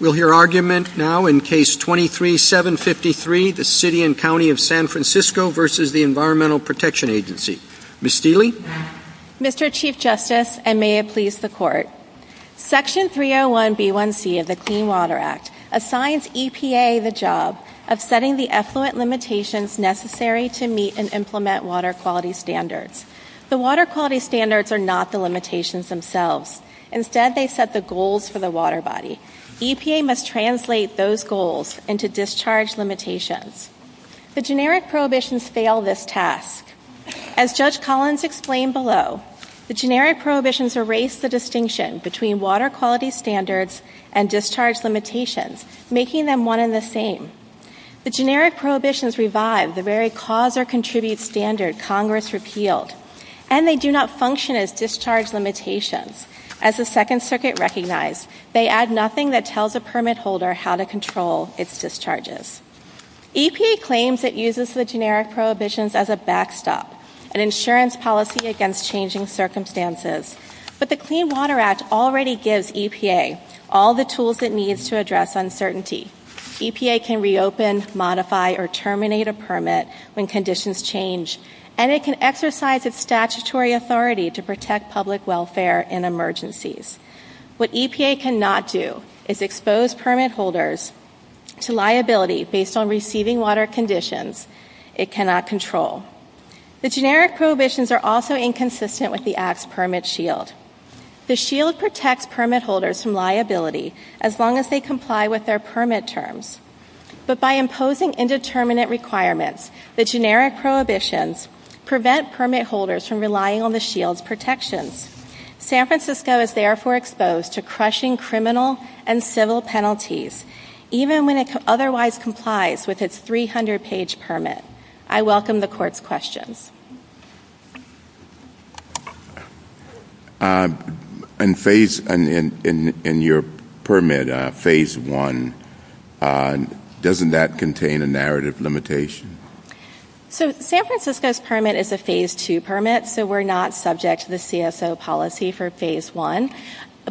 We'll hear argument now in Case 23-753, the City and County of San Francisco v. Environmental Protection Agency. Ms. Steele? Mr. Chief Justice, and may it please the Court, Section 301B1C of the Clean Water Act assigns EPA the job of setting the effluent limitations necessary to meet and implement water quality standards. The water quality standards are not the limitations themselves. Instead, they set the goals for the water body. EPA must translate those goals into discharge limitations. The generic prohibitions fail this task. As Judge Collins explained below, the generic prohibitions erase the distinction between water quality standards and discharge limitations, making them one and the same. The generic prohibitions revive the very cause-or-contribute standard Congress repealed, and they do not function as discharge limitations. As the Second Circuit recognized, they add nothing that tells a permit holder how to control its discharges. EPA claims it uses the generic prohibitions as a backstop, an insurance policy against changing circumstances, but the Clean Water Act already gives EPA all the tools it needs to address uncertainty. EPA can reopen, modify, or terminate a permit when conditions change, and it can exercise its statutory authority to protect public welfare in emergencies. What EPA cannot do is expose permit holders to liability based on receiving water conditions it cannot control. The generic prohibitions are also inconsistent with the Act's permit shield. The shield protects permit holders from liability as long as they comply with their permit terms. But by imposing indeterminate requirements, the generic prohibitions prevent permit holders from relying on the shield's protections. San Francisco is therefore exposed to crushing criminal and civil penalties, even when it otherwise complies with its 300-page permit. I welcome the Court's questions. In your permit, Phase 1, doesn't that contain a narrative limitation? So San Francisco's permit is a Phase 2 permit, so we're not subject to the CSO policy for Phase 1.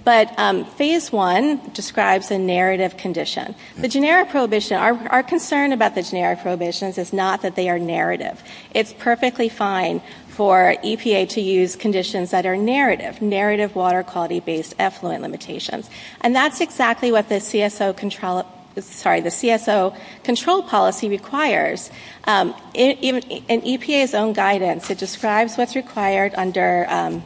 But Phase 1 describes a narrative condition. Our concern about the generic prohibitions is not that they are narrative. It's perfectly fine for EPA to use conditions that are narrative, narrative water quality-based effluent limitations. And that's exactly what the CSO control policy requires. In EPA's own guidance, it describes what's required under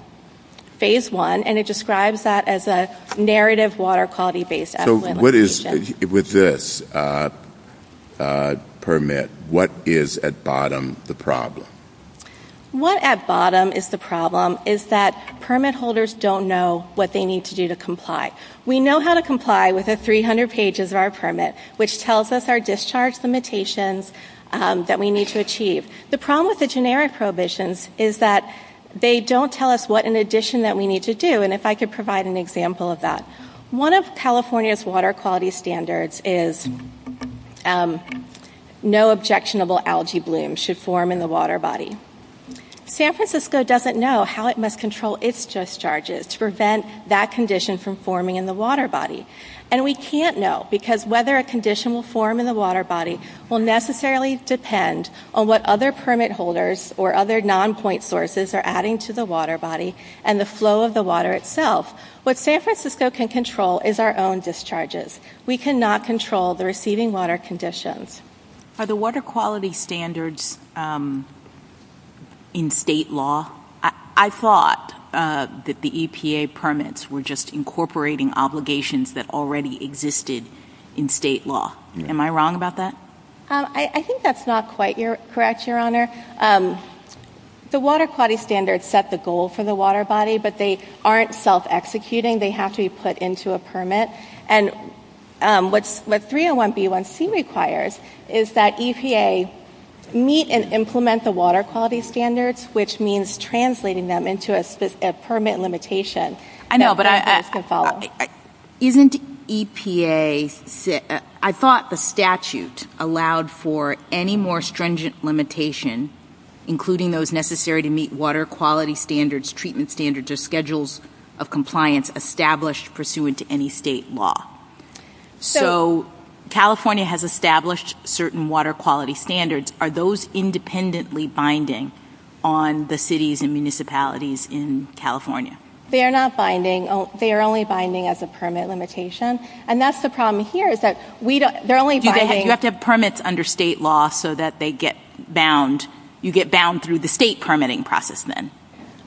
Phase 1, and it describes that as a narrative water quality-based effluent limitation. With this permit, what is at bottom the problem? What at bottom is the problem is that permit holders don't know what they need to do to comply. We know how to comply with the 300 pages of our permit, which tells us our discharge limitations that we need to achieve. The problem with the generic prohibitions is that they don't tell us what in addition that we need to do, and if I could provide an example of that. One of California's water quality standards is no objectionable algae bloom should form in the water body. San Francisco doesn't know how it must control its discharges to prevent that condition from forming in the water body. And we can't know, because whether a condition will form in the water body will necessarily depend on what other permit holders or other non-point sources are adding to the water body and the flow of the water itself. What San Francisco can control is our own discharges. We cannot control the receding water conditions. Are the water quality standards in state law? I thought that the EPA permits were just incorporating obligations that already existed in state law. Am I wrong about that? I think that's not quite correct, Your Honor. The water quality standards set the goal for the water body, but they aren't self-executing. They have to be put into a permit. And what 301B1C requires is that EPA meet and implement the water quality standards, which means translating them into a permit limitation. Isn't EPA ‑‑ I thought the statute allowed for any more stringent limitation, including those necessary to meet water quality standards, treatment standards, or schedules of compliance established pursuant to any state law. So California has established certain water quality standards. Are those independently binding on the cities and municipalities in California? They are not binding. They are only binding as a permit limitation. And that's the problem here is that we don't ‑‑ You have to have permits under state law so that they get bound. You get bound through the state permitting process then.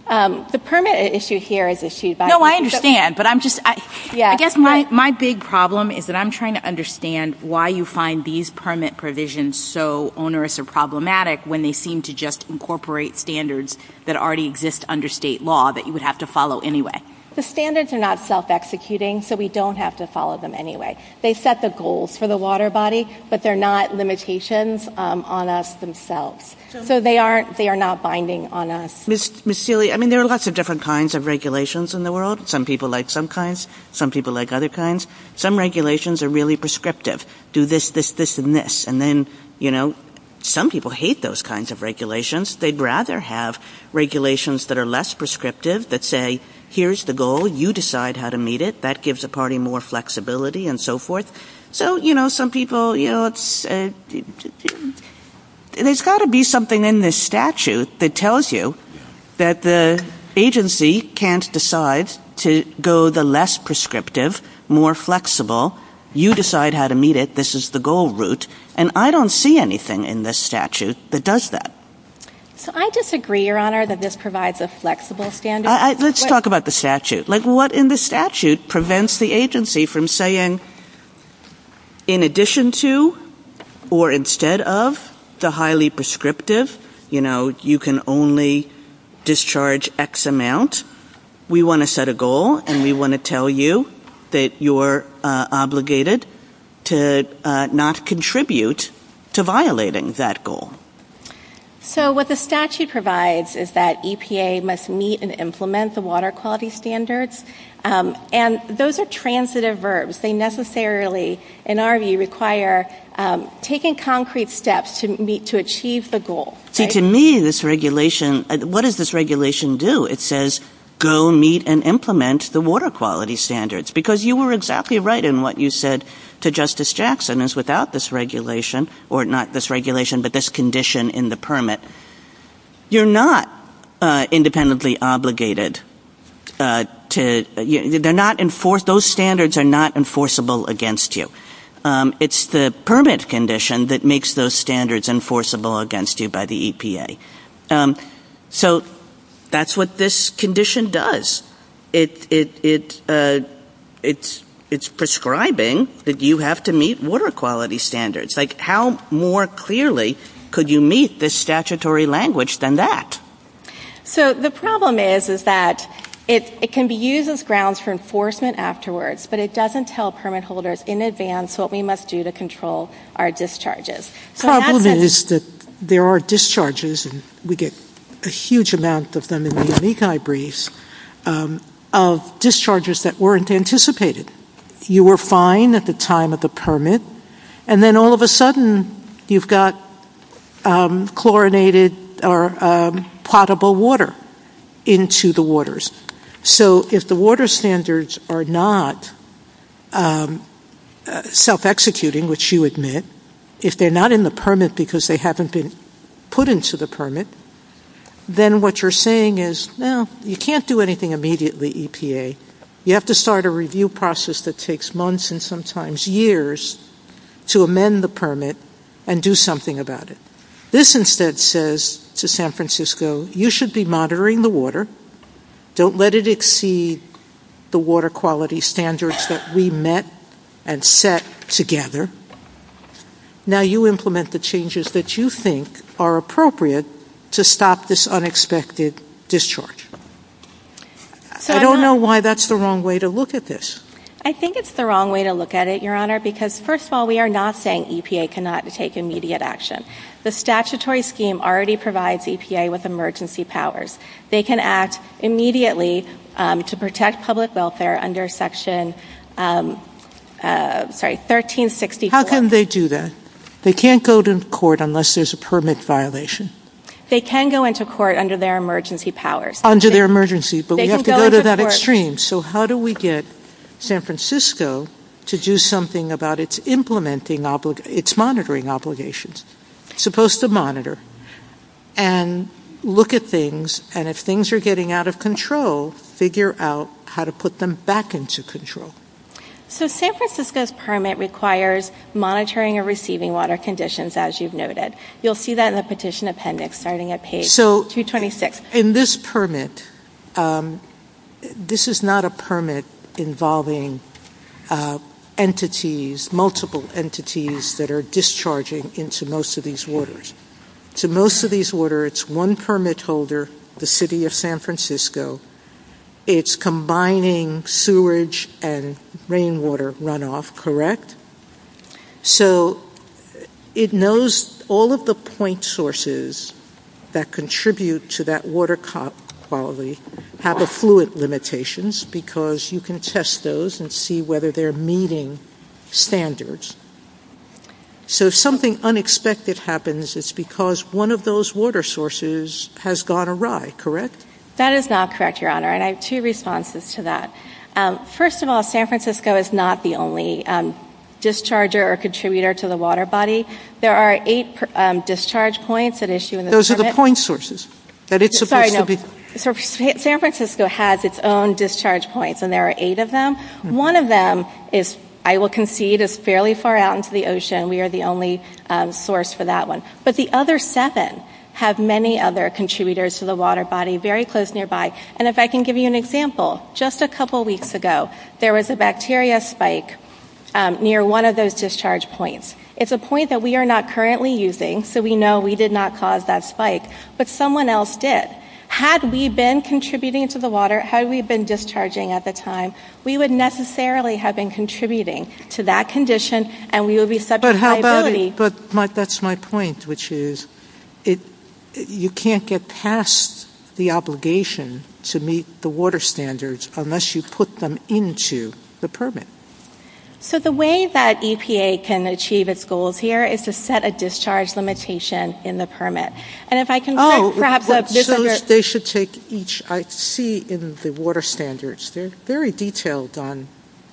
The permit issue here is the issue that ‑‑ No, I understand. But I'm just ‑‑ I guess my big problem is that I'm trying to understand why you find these permit provisions so onerous or problematic when they seem to just incorporate standards that already exist under state law that you would have to follow anyway. The standards are not self‑executing, so we don't have to follow them anyway. They set the goals for the water body, but they're not limitations on us themselves. So they are not binding on us. Ms. Seely, I mean, there are lots of different kinds of regulations in the world. Some people like some kinds. Some people like other kinds. Some regulations are really prescriptive. Do this, this, this, and this. And then, you know, some people hate those kinds of regulations. They'd rather have regulations that are less prescriptive that say, here's the goal, you decide how to meet it. That gives a party more flexibility and so forth. So, you know, some people, you know, it's ‑‑ there's got to be something in this statute that tells you that the agency can't decide to go the less prescriptive, more flexible, you decide how to meet it, this is the goal route. And I don't see anything in this statute that does that. I disagree, Your Honor, that this provides a flexible standard. Let's talk about the statute. Like, what in the statute prevents the agency from saying, in addition to or instead of the highly prescriptive, you know, you can only discharge X amount, we want to set a goal and we want to tell you that you're obligated to not contribute to violating that goal. So what the statute provides is that EPA must meet and implement the water quality standards. And those are transitive verbs. They necessarily, in our view, require taking concrete steps to achieve the goal. To me, this regulation, what does this regulation do? It says, go meet and implement the water quality standards. Because you were exactly right in what you said to Justice Jackson, is without this regulation, or not this regulation, but this condition in the permit, you're not independently obligated to ‑‑ they're not ‑‑ those standards are not enforceable against you. It's the permit condition that makes those standards enforceable against you by the EPA. So that's what this condition does. It's prescribing that you have to meet water quality standards. Like, how more clearly could you meet this statutory language than that? So the problem is that it can be used as grounds for enforcement afterwards, but it doesn't tell permit holders in advance what we must do to control our discharges. The problem is that there are discharges, and we get a huge amount of them in the Amici briefs, of discharges that weren't anticipated. You were fine at the time of the permit, and then all of a sudden, you've got chlorinated or potable water into the waters. So if the water standards are not self‑executing, which you admit, if they're not in the permit because they haven't been put into the permit, then what you're saying is, well, you can't do anything immediately, EPA. You have to start a review process that takes months and sometimes years to amend the permit and do something about it. This instead says to San Francisco, you should be monitoring the water. Don't let it exceed the water quality standards that we met and set together. Now you implement the changes that you think are appropriate to stop this unexpected discharge. I don't know why that's the wrong way to look at this. I think it's the wrong way to look at it, Your Honor, because first of all, we are not saying EPA cannot take immediate action. The statutory scheme already provides EPA with emergency powers. They can act immediately to protect public welfare under Section 1364. How can they do that? They can't go to court unless there's a permit violation. They can go into court under their emergency powers. Under their emergency, but we have to go to that extreme. So how do we get San Francisco to do something about its monitoring obligations? So San Francisco's permit is supposed to monitor and look at things, and if things are getting out of control, figure out how to put them back into control. So San Francisco's permit requires monitoring and receiving water conditions, as you've noted. You'll see that in the petition appendix starting at page 226. So in this permit, this is not a permit involving entities, it's multiple entities that are discharging into most of these waters. To most of these waters, it's one permit holder, the city of San Francisco. It's combining sewage and rainwater runoff, correct? So it knows all of the point sources that contribute to that water quality have affluent limitations because you can test those and see whether they're meeting standards. So if something unexpected happens, it's because one of those water sources has gone awry, correct? That is not correct, Your Honor, and I have two responses to that. First of all, San Francisco is not the only discharger or contributor to the water body. There are eight discharge points that issue in the permit. Those are the point sources that it's supposed to be. San Francisco has its own discharge points, and there are eight of them. One of them, I will concede, is fairly far out into the ocean. We are the only source for that one. But the other seven have many other contributors to the water body very close nearby. And if I can give you an example, just a couple weeks ago, there was a bacteria spike near one of those discharge points. It's a point that we are not currently using, so we know we did not cause that spike, but someone else did. Had we been contributing to the water, had we been discharging at the time, we would necessarily have been contributing to that condition, and we would be subject to liability. But that's my point, which is you can't get past the obligation to meet the water standards unless you put them into the permit. So the way that EPA can achieve its goals here is to set a discharge limitation in the permit. And if I can grab that. They should take each. I see in the water standards, they're very detailed on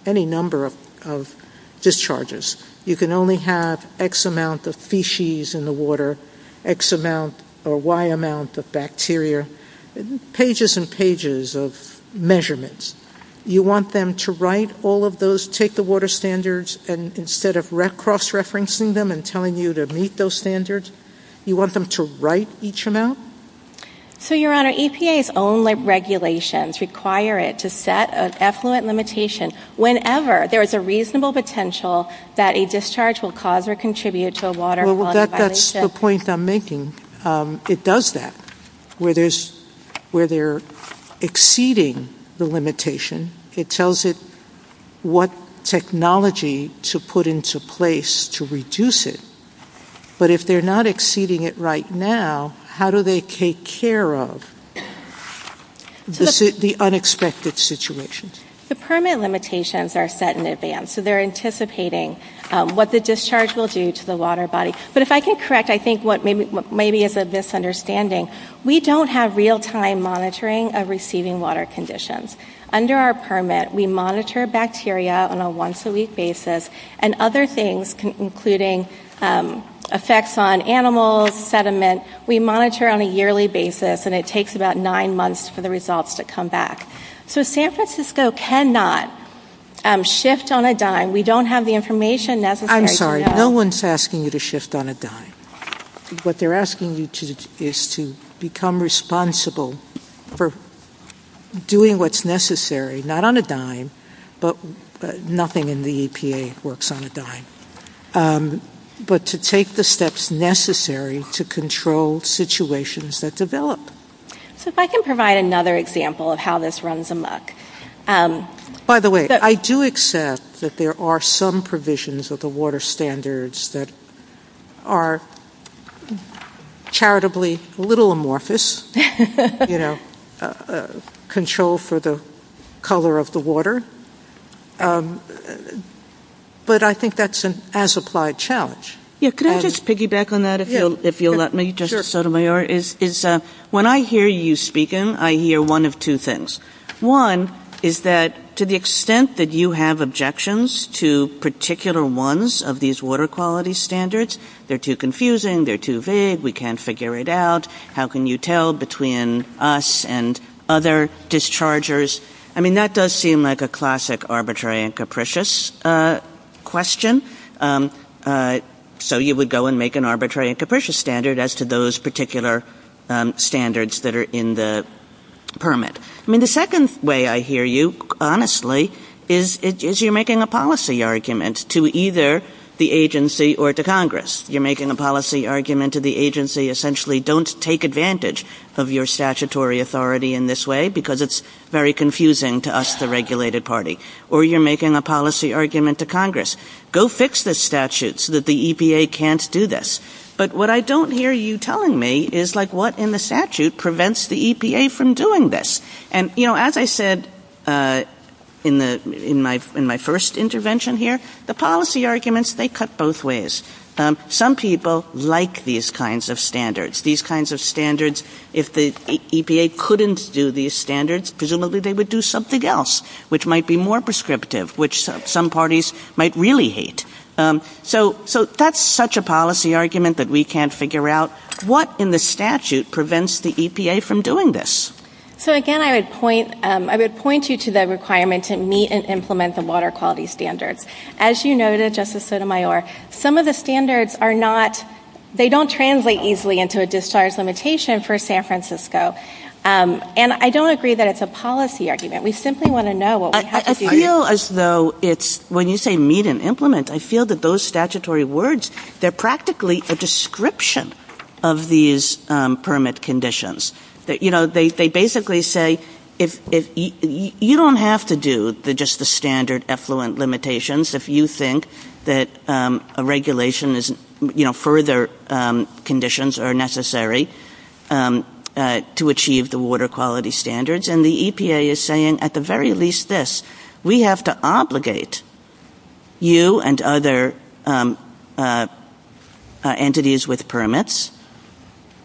any number of discharges. You can only have X amount of feces in the water, X amount or Y amount of bacteria, pages and pages of measurements. You want them to write all of those, take the water standards, and instead of cross-referencing them and telling you to meet those standards, you want them to write each amount? So, Your Honor, EPA's own regulations require it to set an effluent limitation whenever there is a reasonable potential that a discharge will cause or contribute to a water violation. Well, that's the point I'm making. It does that. Where they're exceeding the limitation, it tells it what technology to put into place to reduce it. But if they're not exceeding it right now, how do they take care of the unexpected situation? The permit limitations are set in advance. So they're anticipating what the discharge will do to the water body. But if I can correct, I think what maybe is a misunderstanding, we don't have real-time monitoring of receiving water conditions. Under our permit, we monitor bacteria on a once-a-week basis and other things, including effects on animals, sediment. We monitor on a yearly basis, and it takes about nine months for the results to come back. So San Francisco cannot shift on a dime. We don't have the information necessary to know. I'm sorry. No one's asking you to shift on a dime. What they're asking you to do is to become responsible for doing what's necessary, not on a dime, but nothing in the EPA works on a dime, but to take the steps necessary to control situations that develop. So if I can provide another example of how this runs amok. By the way, I do accept that there are some provisions of the water standards that are charitably a little amorphous, you know, control for the color of the water. But I think that's an as-applied challenge. Can I just piggyback on that, if you'll let me? When I hear you speaking, I hear one of two things. One is that to the extent that you have objections to particular ones of these water quality standards, they're too confusing, they're too vague, we can't figure it out, how can you tell between us and other dischargers? I mean, that does seem like a classic arbitrary and capricious question. So you would go and make an arbitrary and capricious standard as to those particular standards that are in the permit. I mean, the second way I hear you, honestly, is you're making a policy argument to either the agency or to Congress. You're making a policy argument to the agency, essentially, don't take advantage of your statutory authority in this way, because it's very confusing to us, the regulated party. Or you're making a policy argument to Congress. Go fix this statute so that the EPA can't do this. But what I don't hear you telling me is, like, what in the statute prevents the EPA from doing this? And, you know, as I said in my first intervention here, the policy arguments, they cut both ways. Some people like these kinds of standards, these kinds of standards. If the EPA couldn't do these standards, presumably they would do something else, which might be more prescriptive, which some parties might really hate. So that's such a policy argument that we can't figure out what in the statute prevents the EPA from doing this. So, again, I would point you to the requirement to meet and implement the water quality standard. As you noted, Justice Sotomayor, some of the standards are not, they don't translate easily into a discharge limitation for San Francisco. And I don't agree that it's a policy argument. We simply want to know what we have to do. I feel as though it's, when you say meet and implement, I feel that those statutory words, they're practically a description of these permit conditions. You know, they basically say, you don't have to do just the standard effluent limitations if you think that a regulation is, you know, further conditions are necessary to achieve the water quality standards. And the EPA is saying at the very least this. We have to obligate you and other entities with permits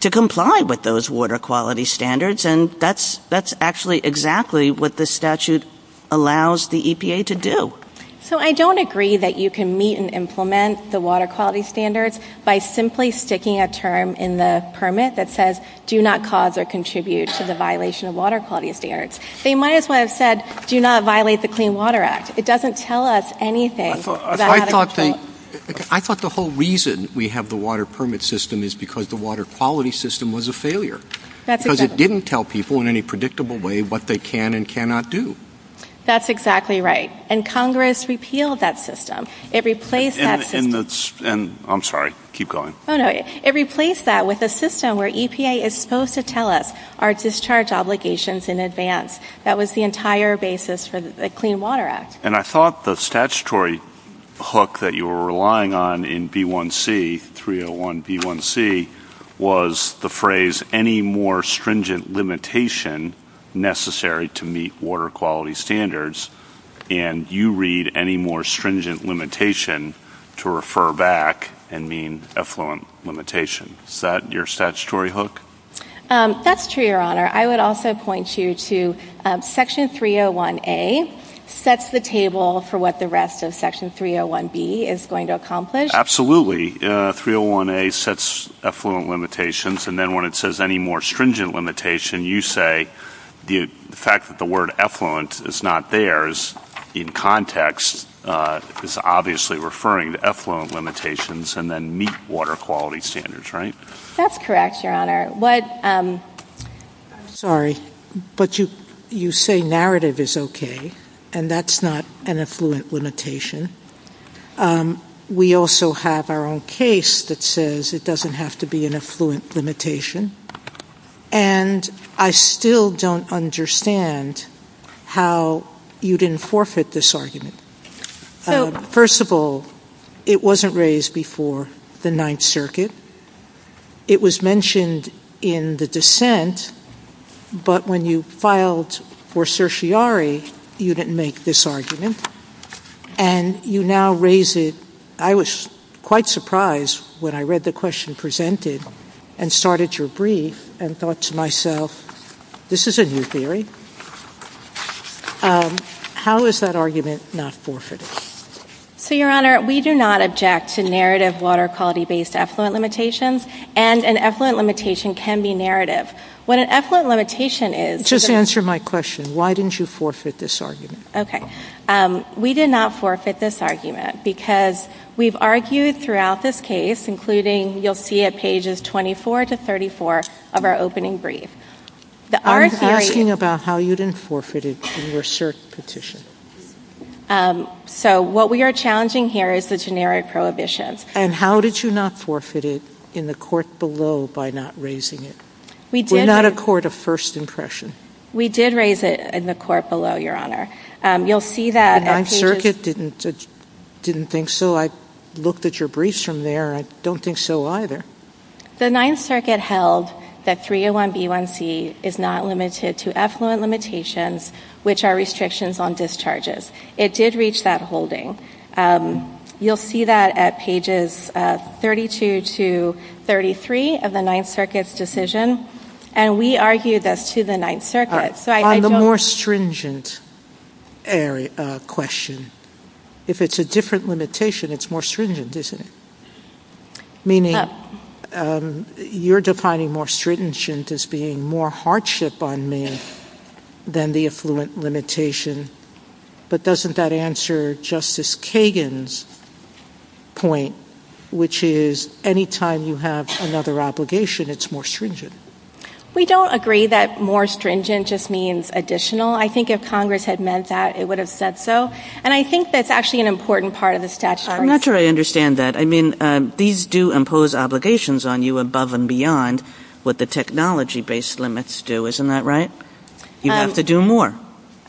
to comply with those water quality standards. And that's actually exactly what the statute allows the EPA to do. So I don't agree that you can meet and implement the water quality standards by simply sticking a term in the permit that says, do not cause or contribute to the violation of water quality affairs. They might as well have said, do not violate the Clean Water Act. It doesn't tell us anything. I thought the whole reason we have the water permit system is because the water quality system was a failure. Because it didn't tell people in any predictable way what they can and cannot do. That's exactly right. And Congress repealed that system. It replaced that system. I'm sorry. Keep going. It replaced that with a system where EPA is supposed to tell us our discharge obligations in advance. That was the entire basis for the Clean Water Act. And I thought the statutory hook that you were relying on in B1C, 301B1C, was the phrase any more stringent limitation necessary to meet water quality standards. And you read any more stringent limitation to refer back and mean effluent limitation. Is that your statutory hook? That's true, Your Honor. I would also point you to Section 301A sets the table for what the rest of Section 301B is going to accomplish. Absolutely. 301A sets effluent limitations. And then when it says any more stringent limitation, you say the fact that the word effluent is not there in context is obviously referring to effluent limitations and then meet water quality standards, right? That's correct, Your Honor. Sorry. But you say narrative is okay. And that's not an effluent limitation. We also have our own case that says it doesn't have to be an effluent limitation. And I still don't understand how you didn't forfeit this argument. First of all, it wasn't raised before the Ninth Circuit. It was mentioned in the dissent. But when you filed for certiorari, you didn't make this argument. And you now raise it. I was quite surprised when I read the question presented and started your brief and thought to myself, this is a new theory. How is that argument not forfeited? So, Your Honor, we do not object to narrative water quality-based effluent limitations. And an effluent limitation can be narrative. What an effluent limitation is- Just answer my question. Why didn't you forfeit this argument? Okay. We did not forfeit this argument because we've argued throughout this case, including you'll see at pages 24 to 34 of our opening brief. I'm asking about how you didn't forfeit it in your cert petition. So what we are challenging here is the generic prohibition. And how did you not forfeit it in the court below by not raising it? We're not a court of first impression. We did raise it in the court below, Your Honor. You'll see that- The Ninth Circuit didn't think so. I looked at your briefs from there. I don't think so either. The Ninth Circuit held that 301B1C is not limited to effluent limitations, which are restrictions on discharges. It did reach that holding. You'll see that at pages 32 to 33 of the Ninth Circuit's decision. And we argued this to the Ninth Circuit. On the more stringent question, if it's a different limitation, it's more stringent, isn't it? Meaning you're defining more stringent as being more hardship on men than the effluent limitation. But doesn't that answer Justice Kagan's point, which is any time you have another obligation, it's more stringent? We don't agree that more stringent just means additional. I think if Congress had meant that, it would have said so. And I think that's actually an important part of the statute. I'm not sure I understand that. I mean, these do impose obligations on you above and beyond what the technology-based limits do. Isn't that right? You have to do more.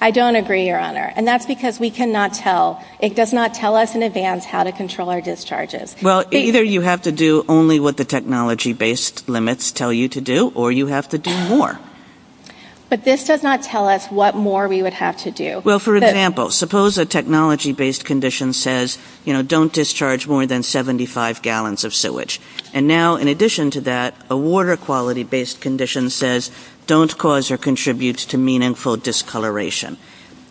I don't agree, Your Honor. And that's because we cannot tell. It does not tell us in advance how to control our discharges. Well, either you have to do only what the technology-based limits tell you to do, or you have to do more. But this does not tell us what more we would have to do. Well, for example, suppose a technology-based condition says, you know, don't discharge more than 75 gallons of sewage. And now, in addition to that, a water-quality-based condition says, don't cause or contribute to meaningful discoloration.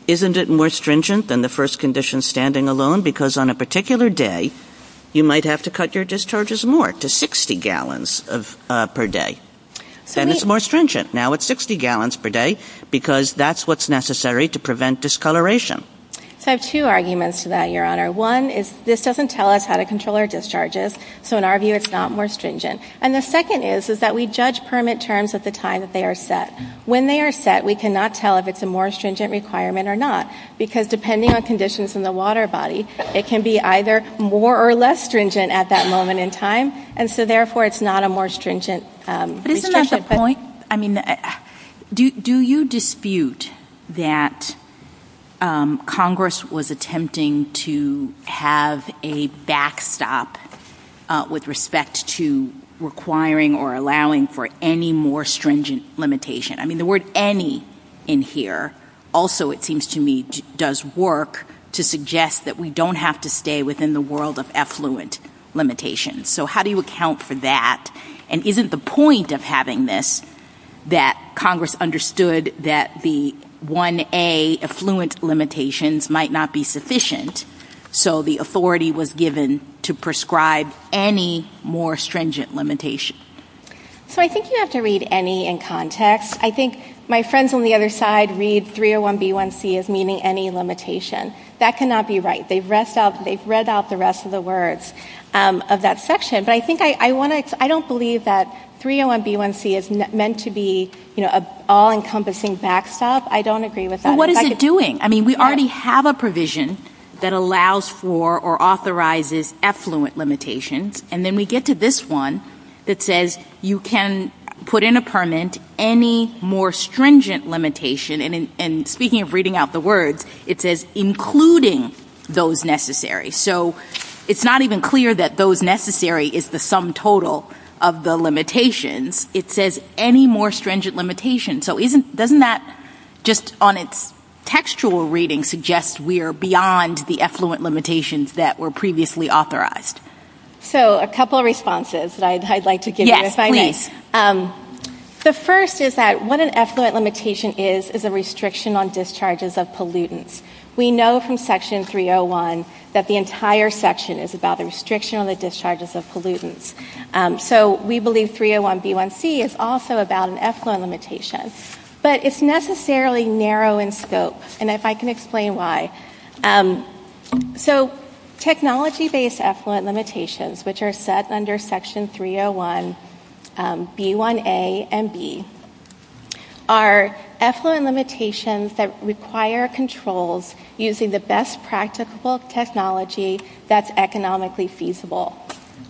Isn't it more stringent than the first condition standing alone? Because on a particular day, you might have to cut your discharges more to 60 gallons per day. Then it's more stringent. Now it's 60 gallons per day because that's what's necessary to prevent discoloration. I have two arguments to that, Your Honor. One is this doesn't tell us how to control our discharges. So in our view, it's not more stringent. And the second is that we judge permit terms at the time that they are set. When they are set, we cannot tell if it's a more stringent requirement or not, because depending on conditions in the water body, it can be either more or less stringent at that moment in time. And so, therefore, it's not a more stringent restriction. Do you dispute that Congress was attempting to have a backstop with respect to requiring or allowing for any more stringent limitation? I mean, the word any in here also, it seems to me, does work to suggest that we don't have to stay within the world of effluent limitations. So how do you account for that? And isn't the point of having this that Congress understood that the 1A effluent limitations might not be sufficient, so the authority was given to prescribe any more stringent limitation? So I think you have to read any in context. I think my friends on the other side read 301B1C as meaning any limitation. That cannot be right. They've read out the rest of the words of that section. I don't believe that 301B1C is meant to be an all-encompassing backstop. I don't agree with that. What is it doing? I mean, we already have a provision that allows for or authorizes effluent limitations, and then we get to this one that says you can put in a permit any more stringent limitation. And speaking of reading out the words, it says including those necessary. So it's not even clear that those necessary is the sum total of the limitations. It says any more stringent limitation. So doesn't that, just on its textual reading, suggest we are beyond the effluent limitations that were previously authorized? So a couple of responses that I'd like to give you if I may. The first is that what an effluent limitation is is a restriction on discharges of pollutants. We know from Section 301 that the entire section is about a restriction on the discharges of pollutants. So we believe 301B1C is also about an effluent limitation. But it's necessarily narrow in scope, and if I can explain why. So technology-based effluent limitations, which are set under Section 301B1A and B, are effluent limitations that require controls using the best practicable technology that's economically feasible.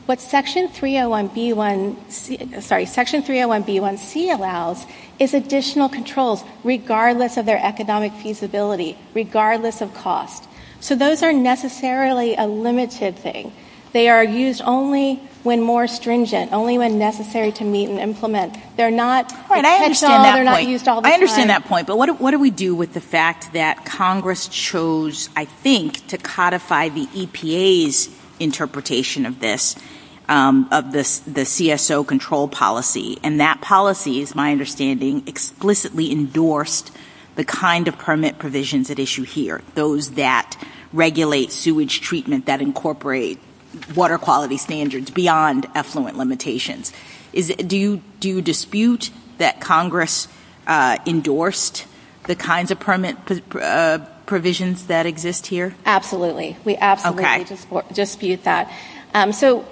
What Section 301B1C allows is additional controls regardless of their economic feasibility, regardless of cost. So those are necessarily a limited thing. They are used only when more stringent, only when necessary to meet and implement. I understand that point, but what do we do with the fact that Congress chose, I think, to codify the EPA's interpretation of this, of the CSO control policy? And that policy, is my understanding, explicitly endorsed the kind of permit provisions at issue here, those that regulate sewage treatment, that incorporate water quality standards beyond effluent limitations. Do you dispute that Congress endorsed the kinds of permit provisions that exist here? Absolutely. We absolutely dispute that. So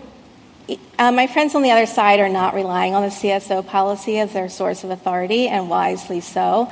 my friends on the other side are not relying on the CSO policy as their source of authority, and wisely so,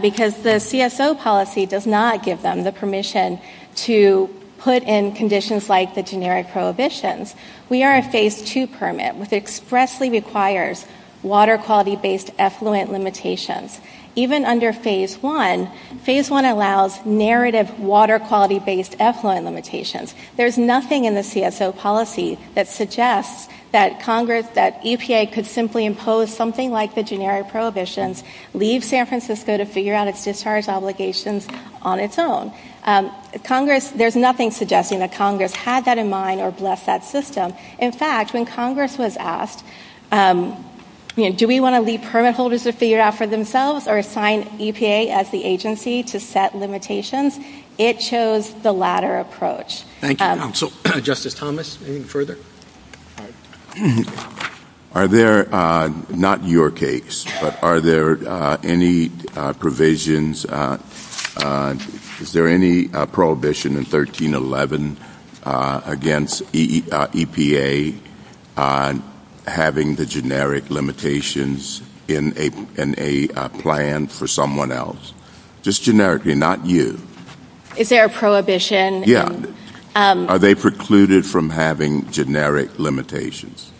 because the CSO policy does not give them the permission to put in conditions like the generic prohibitions. We are a Phase II permit, which expressly requires water quality-based effluent limitations. Even under Phase I, Phase I allows narrative water quality-based effluent limitations. There's nothing in the CSO policy that suggests that Congress, that EPA could simply impose something like the generic prohibitions, leave San Francisco to figure out its discharge obligations on its own. There's nothing suggesting that Congress had that in mind or blessed that system. In fact, when Congress was asked, do we want to leave permit holders to figure it out for themselves or assign EPA as the agency to set limitations, it chose the latter approach. Thank you. So, Justice Thomas, any further? Are there, not your case, but are there any provisions, is there any prohibition in 1311 against EPA having the generic limitations in a plan for someone else? Just generically, not you. Is there a prohibition? Yeah. Are they precluded from having generic limitations?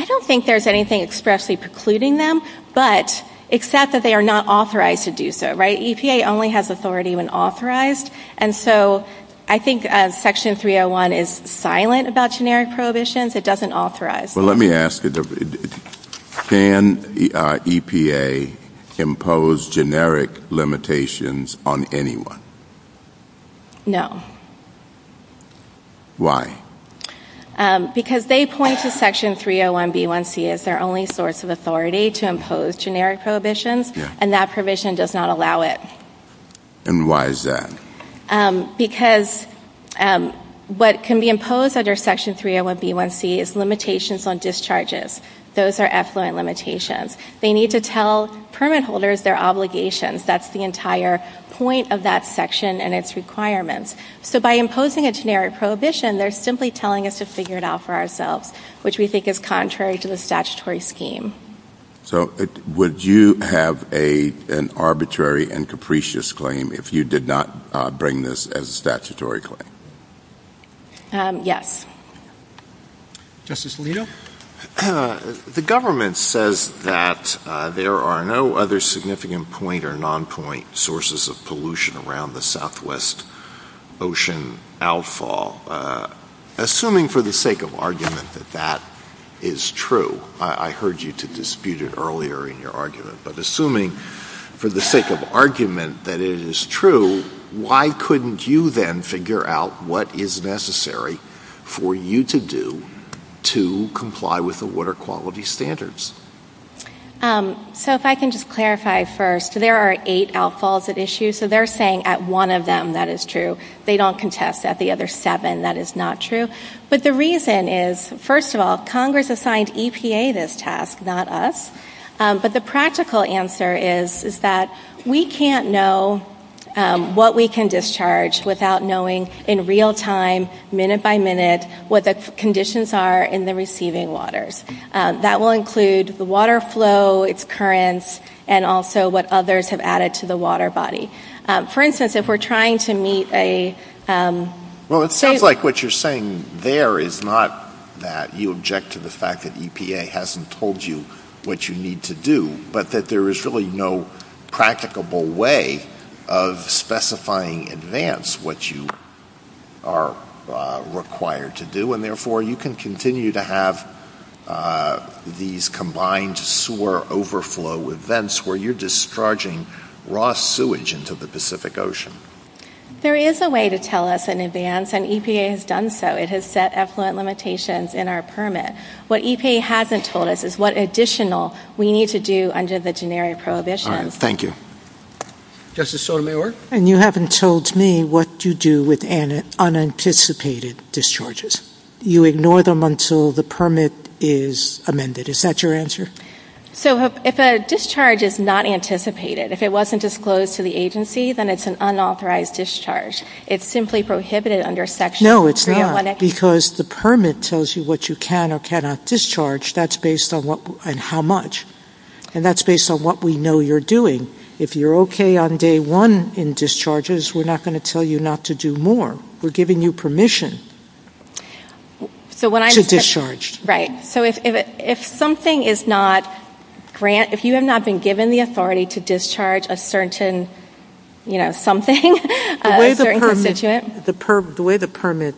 I don't think there's anything expressly precluding them, but except that they are not authorized to do so, right? EPA only has authority when authorized, and so I think Section 301 is silent about generic prohibitions. It doesn't authorize them. Well, let me ask, can EPA impose generic limitations on anyone? No. Why? Because they point to Section 301B1C as their only source of authority to impose generic prohibitions, and that provision does not allow it. And why is that? Because what can be imposed under Section 301B1C is limitations on discharges. Those are effluent limitations. They need to tell permit holders their obligations. That's the entire point of that section and its requirements. So by imposing a generic prohibition, they're simply telling us to figure it out for ourselves, which we think is contrary to the statutory scheme. So would you have an arbitrary and capricious claim if you did not bring this as a statutory claim? Yes. Justice Alito? The government says that there are no other significant point or non-point sources of pollution around the southwest ocean outfall. Assuming for the sake of argument that that is true, I heard you dispute it earlier in your argument, but assuming for the sake of argument that it is true, why couldn't you then figure out what is necessary for you to do to comply with the water quality standards? So if I can just clarify first, there are eight outfalls at issue. So they're saying at one of them that is true. They don't contest at the other seven that is not true. But the reason is, first of all, Congress assigned EPA this task, not us. But the practical answer is that we can't know what we can discharge without knowing in real time, minute by minute, what the conditions are in the receiving waters. That will include the water flow, its currents, and also what others have added to the water body. For instance, if we're trying to meet a- Well, it sounds like what you're saying there is not that you object to the fact that EPA hasn't told you what you need to do, but that there is really no practicable way of specifying in advance what you are required to do, and therefore you can continue to have these combined sewer overflow events where you're discharging raw sewage into the Pacific Ocean. There is a way to tell us in advance, and EPA has done so. It has set effluent limitations in our permit. What EPA hasn't told us is what additional we need to do under the generic prohibition. All right. Thank you. Justice Sotomayor? You haven't told me what you do with unanticipated discharges. You ignore them until the permit is amended. Is that your answer? If a discharge is not anticipated, if it wasn't disclosed to the agency, then it's an unauthorized discharge. It's simply prohibited under section- No, it's not, because the permit tells you what you can or cannot discharge, and how much. And that's based on what we know you're doing. If you're okay on day one in discharges, we're not going to tell you not to do more. We're giving you permission to discharge. Right. So if you have not been given the authority to discharge a certain something, a certain constituent- The way the permit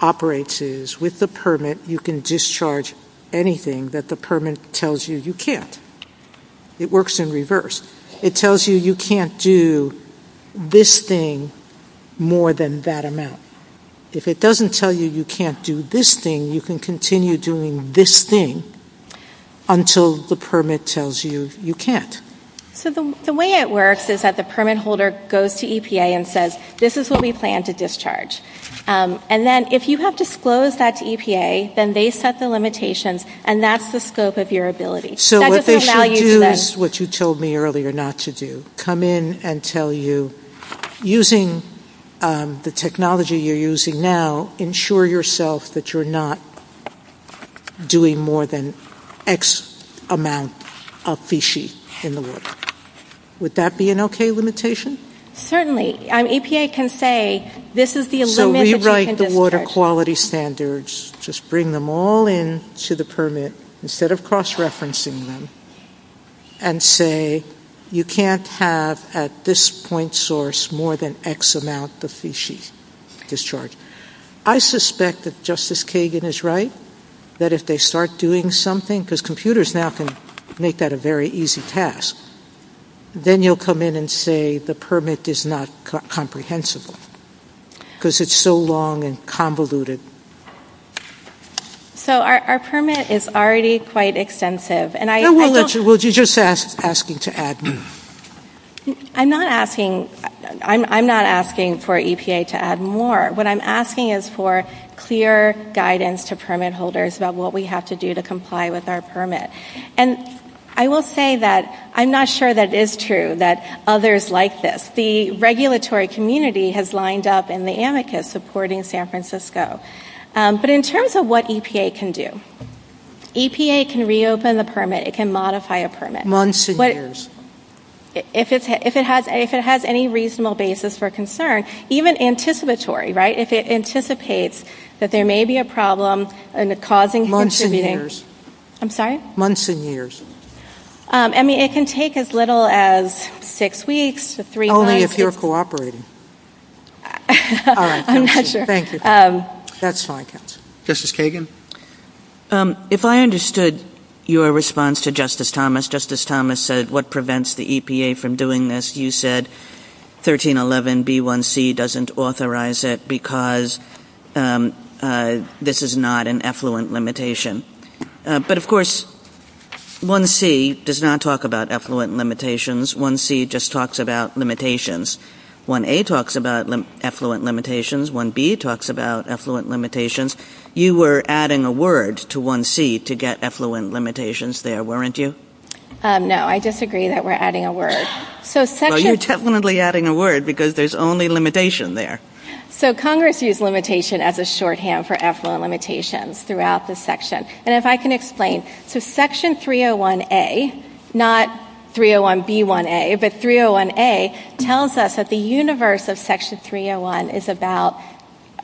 operates is, with the permit, you can discharge anything that the permit tells you you can't. It works in reverse. It tells you you can't do this thing more than that amount. If it doesn't tell you you can't do this thing, you can continue doing this thing until the permit tells you you can't. The way it works is that the permit holder goes to EPA and says, this is what we plan to discharge. And then, if you have disclosed that to EPA, then they set the limitations, and that's the scope of your ability. So what they should do is what you told me earlier not to do. They should come in and tell you, using the technology you're using now, ensure yourself that you're not doing more than X amount of feces in the water. Would that be an okay limitation? Certainly. EPA can say, this is the limit- So rewrite the water quality standards. Just bring them all in to the permit, instead of cross-referencing them, and say, you can't have, at this point source, more than X amount of feces discharged. I suspect that Justice Kagan is right, that if they start doing something- because computers now can make that a very easy task- then you'll come in and say the permit is not comprehensible, because it's so long and convoluted. So our permit is already quite extensive, and I- No, we'll let you. We're just asking to add more. I'm not asking for EPA to add more. What I'm asking is for clear guidance to permit holders about what we have to do to comply with our permit. And I will say that I'm not sure that is true, that others like this. The regulatory community has lined up in the amicus supporting San Francisco. But in terms of what EPA can do, EPA can reopen the permit. It can modify a permit. Months and years. If it has any reasonable basis for concern, even anticipatory, right? If it anticipates that there may be a problem causing- Months and years. I'm sorry? Months and years. I mean, it can take as little as six weeks to three months- Only if you're cooperating. All right. I'm not sure. Thank you. That's fine. Justice Kagan? If I understood your response to Justice Thomas, Justice Thomas said what prevents the EPA from doing this. You said 1311B1C doesn't authorize it because this is not an effluent limitation. But, of course, 1C does not talk about effluent limitations. 1C just talks about limitations. 1A talks about effluent limitations. 1B talks about effluent limitations. You were adding a word to 1C to get effluent limitations there, weren't you? No, I disagree that we're adding a word. Well, you're definitely adding a word because there's only limitation there. So Congress used limitation as a shorthand for effluent limitations throughout this section. And if I can explain. So Section 301A, not 301B1A, but 301A, tells us that the universe of Section 301 is about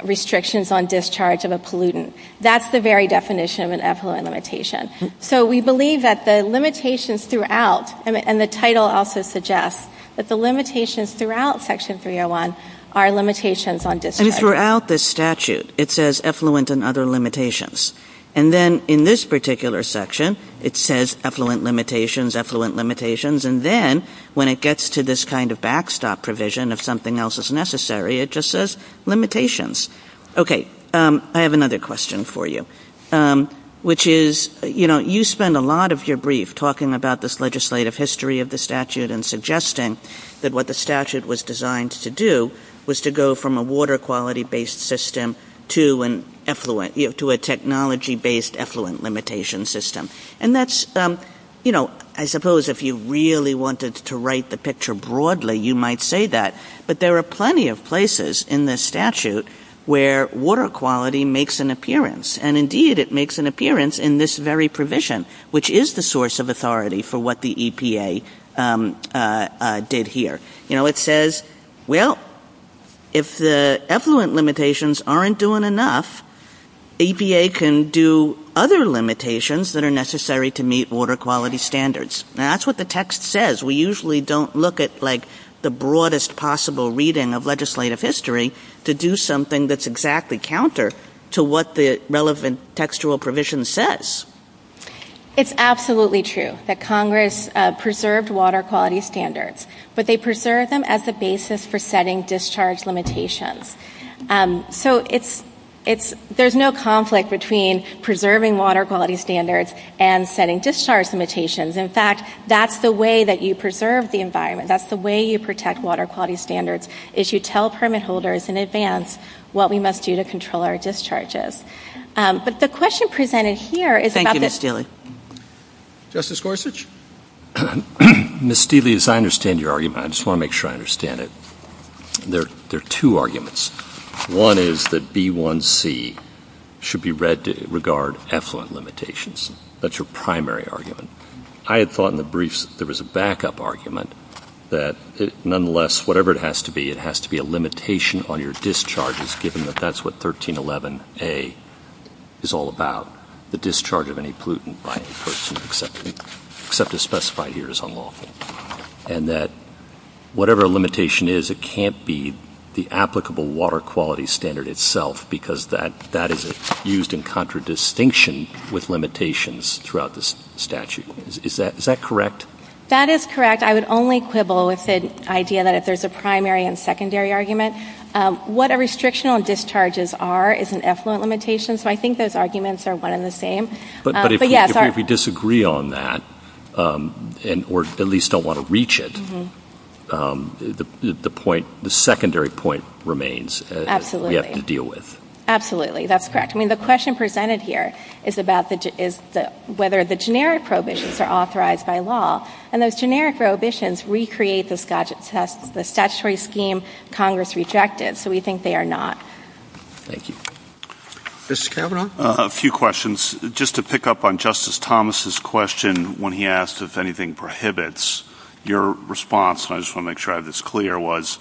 restrictions on discharge of a pollutant. That's the very definition of an effluent limitation. So we believe that the limitations throughout, and the title also suggests that the limitations throughout Section 301 are limitations on discharge. And throughout the statute, it says effluent and other limitations. And then in this particular section, it says effluent limitations, effluent limitations. And then when it gets to this kind of backstop provision, if something else is necessary, it just says limitations. Okay. I have another question for you, which is, you know, you spend a lot of your brief talking about this legislative history of the statute and suggesting that what the statute was designed to do was to go from a water quality-based system to an effluent, you know, to a technology-based effluent limitation system. And that's, you know, I suppose if you really wanted to write the picture broadly, you might say that. But there are plenty of places in this statute where water quality makes an appearance. And indeed, it makes an appearance in this very provision, which is the source of authority for what the EPA did here. You know, it says, well, if the effluent limitations aren't doing enough, the EPA can do other limitations that are necessary to meet water quality standards. And that's what the text says. We usually don't look at, like, the broadest possible reading of legislative history to do something that's exactly counter to what the relevant textual provision says. It's absolutely true that Congress preserved water quality standards, but they preserved them as a basis for setting discharge limitations. So there's no conflict between preserving water quality standards and setting discharge limitations. In fact, that's the way that you preserve the environment. That's the way you protect water quality standards is you tell permit holders in advance what we must do to control our discharges. But the question presented here is about the- Justice Gorsuch? Ms. Steele, as I understand your argument, I just want to make sure I understand it, there are two arguments. One is that B1C should be read to regard effluent limitations. That's your primary argument. I had thought in the briefs there was a backup argument that, nonetheless, whatever it has to be, it has to be a limitation on your discharges, given that that's what 1311A is all about, the discharge of any pollutant by any person except a specified year is unlawful. And that whatever a limitation is, it can't be the applicable water quality standard itself, because that is used in contradistinction with limitations throughout the statute. Is that correct? That is correct. I would only quibble with the idea that if there's a primary and secondary argument, what a restriction on discharges are is an effluent limitation. So I think those arguments are one and the same. But if we disagree on that, or at least don't want to reach it, the secondary point remains. We have to deal with it. Absolutely, that's correct. I mean, the question presented here is about whether the generic prohibitions are authorized by law, and those generic prohibitions recreate the statutory scheme Congress rejected, so we think they are not. Thank you. Mr. Cavanaugh? A few questions. Just to pick up on Justice Thomas's question when he asked if anything prohibits, your response, and I just want to make sure I have this clear, was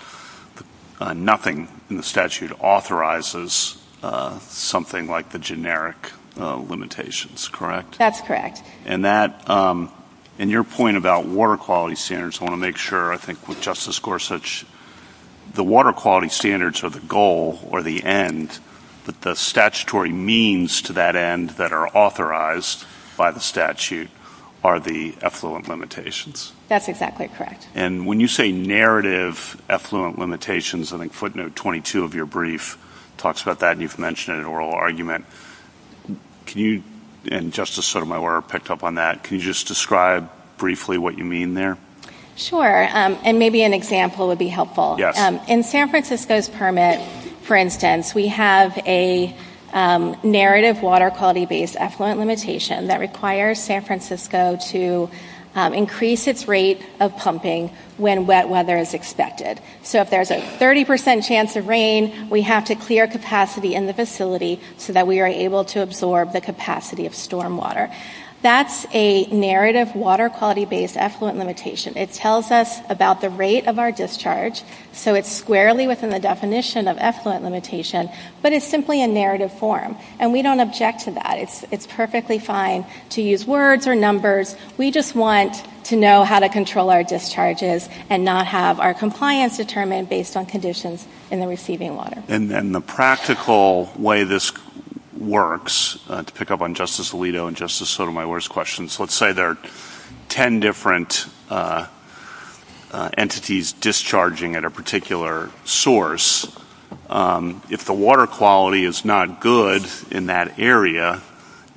nothing in the statute authorizes something like the generic limitations, correct? That's correct. And that, in your point about water quality standards, I want to make sure, I think with Justice Gorsuch, the water quality standards are the goal or the end, but the statutory means to that end that are authorized by the statute are the effluent limitations. That's exactly correct. And when you say narrative effluent limitations, I think footnote 22 of your brief talks about that, and you've mentioned an oral argument. Can you, and Justice Sotomayor picked up on that, can you just describe briefly what you mean there? Sure, and maybe an example would be helpful. In San Francisco's permit, for instance, we have a narrative water quality based effluent limitation that requires San Francisco to increase its rate of pumping when wet weather is expected. So if there's a 30% chance of rain, we have to clear capacity in the facility so that we are able to absorb the capacity of storm water. That's a narrative water quality based effluent limitation. It tells us about the rate of our discharge, so it's squarely within the definition of effluent limitation, but it's simply a narrative form, and we don't object to that. It's perfectly fine to use words or numbers. We just want to know how to control our discharges and not have our compliance determined based on conditions in the receiving water. And the practical way this works, to pick up on Justice Alito and Justice Sotomayor's questions, let's say there are 10 different entities discharging at a particular source. If the water quality is not good in that area,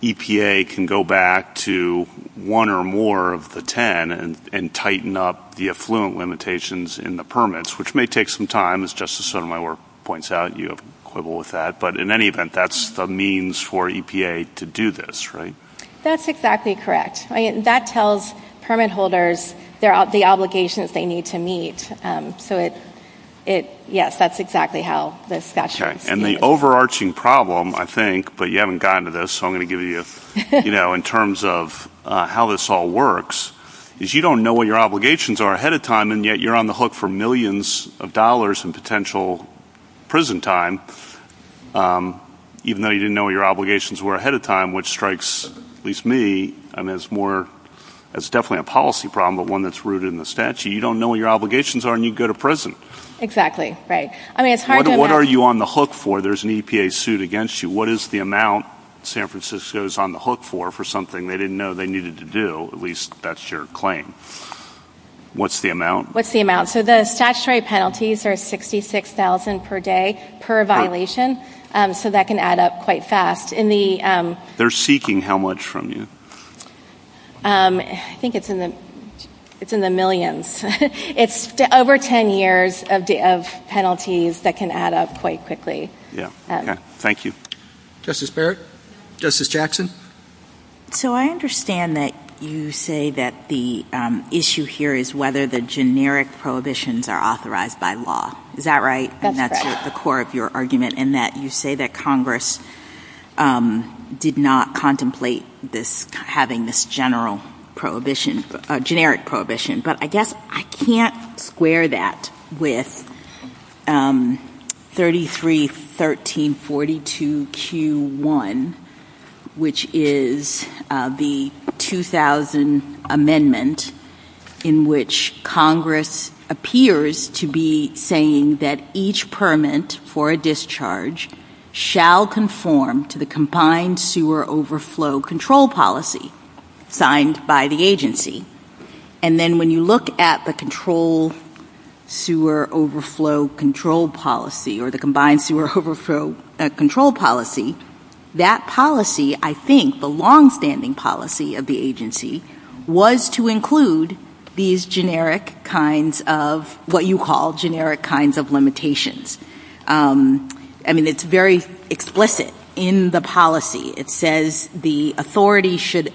EPA can go back to one or more of the 10 and tighten up the effluent limitations in the permits, which may take some time, as Justice Sotomayor points out. You have a quibble with that. But in any event, that's the means for EPA to do this, right? That's exactly correct. That tells permit holders the obligations they need to meet. So, yes, that's exactly how this works. And the overarching problem, I think, but you haven't gotten to this, so I'm going to give you in terms of how this all works, is you don't know what your obligations are ahead of time, and yet you're on the hook for millions of dollars in potential prison time, even though you didn't know what your obligations were ahead of time, which strikes at least me as definitely a policy problem but one that's rooted in the statute. You don't know what your obligations are, and you go to prison. Exactly, right. What are you on the hook for? There's an EPA suit against you. What is the amount San Francisco is on the hook for for something they didn't know they needed to do? At least that's your claim. What's the amount? What's the amount? So the statutory penalties are $66,000 per day per violation, so that can add up quite fast. They're seeking how much from you? I think it's in the millions. It's over 10 years of penalties that can add up quite quickly. Thank you. Justice Barrett? Justice Jackson? So I understand that you say that the issue here is whether the generic prohibitions are authorized by law. Is that right? That's right. And that's the core of your argument in that you say that Congress did not contemplate having this generic prohibition, but I guess I can't square that with 33.13.42Q1, which is the 2000 amendment in which Congress appears to be saying that each permit for a discharge shall conform to the When you look at the Combined Sewer Overflow Control Policy, that policy, I think, the long-standing policy of the agency, was to include these generic kinds of what you call generic kinds of limitations. I mean, it's very explicit in the policy. It says the authority should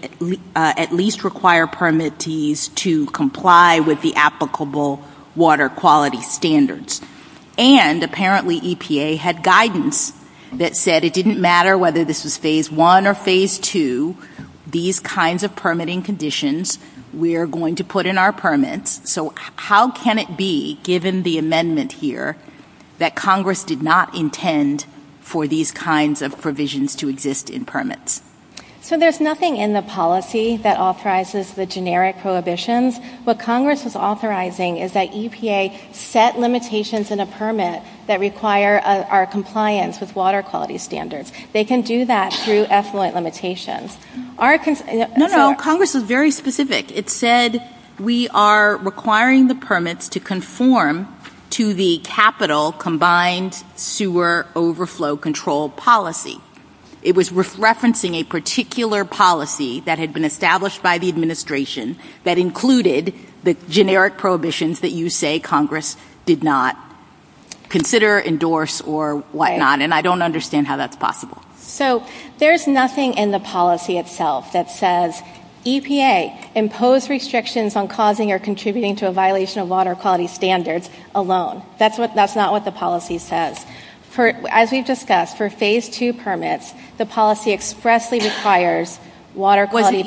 at least require permittees to comply with the applicable water quality standards. And apparently EPA had guidance that said it didn't matter whether this was Phase I or Phase II, these kinds of permitting conditions, we are going to put in our permits. So how can it be, given the amendment here, that Congress did not intend for these kinds of provisions to exist in permits? So there's nothing in the policy that authorizes the generic prohibitions. What Congress is authorizing is that EPA set limitations in a permit that require our compliance with water quality standards. They can do that through effluent limitations. No, no, Congress was very specific. It said we are requiring the permits to conform to the Capital Combined Sewer Overflow Control Policy. It was referencing a particular policy that had been established by the administration that included the generic prohibitions that you say Congress did not consider, endorse, or whatnot. And I don't understand how that's possible. So there's nothing in the policy itself that says EPA, impose restrictions on causing or contributing to a violation of water quality standards alone. That's not what the policy says. As we discussed, for Phase II permits, the policy expressly requires water quality.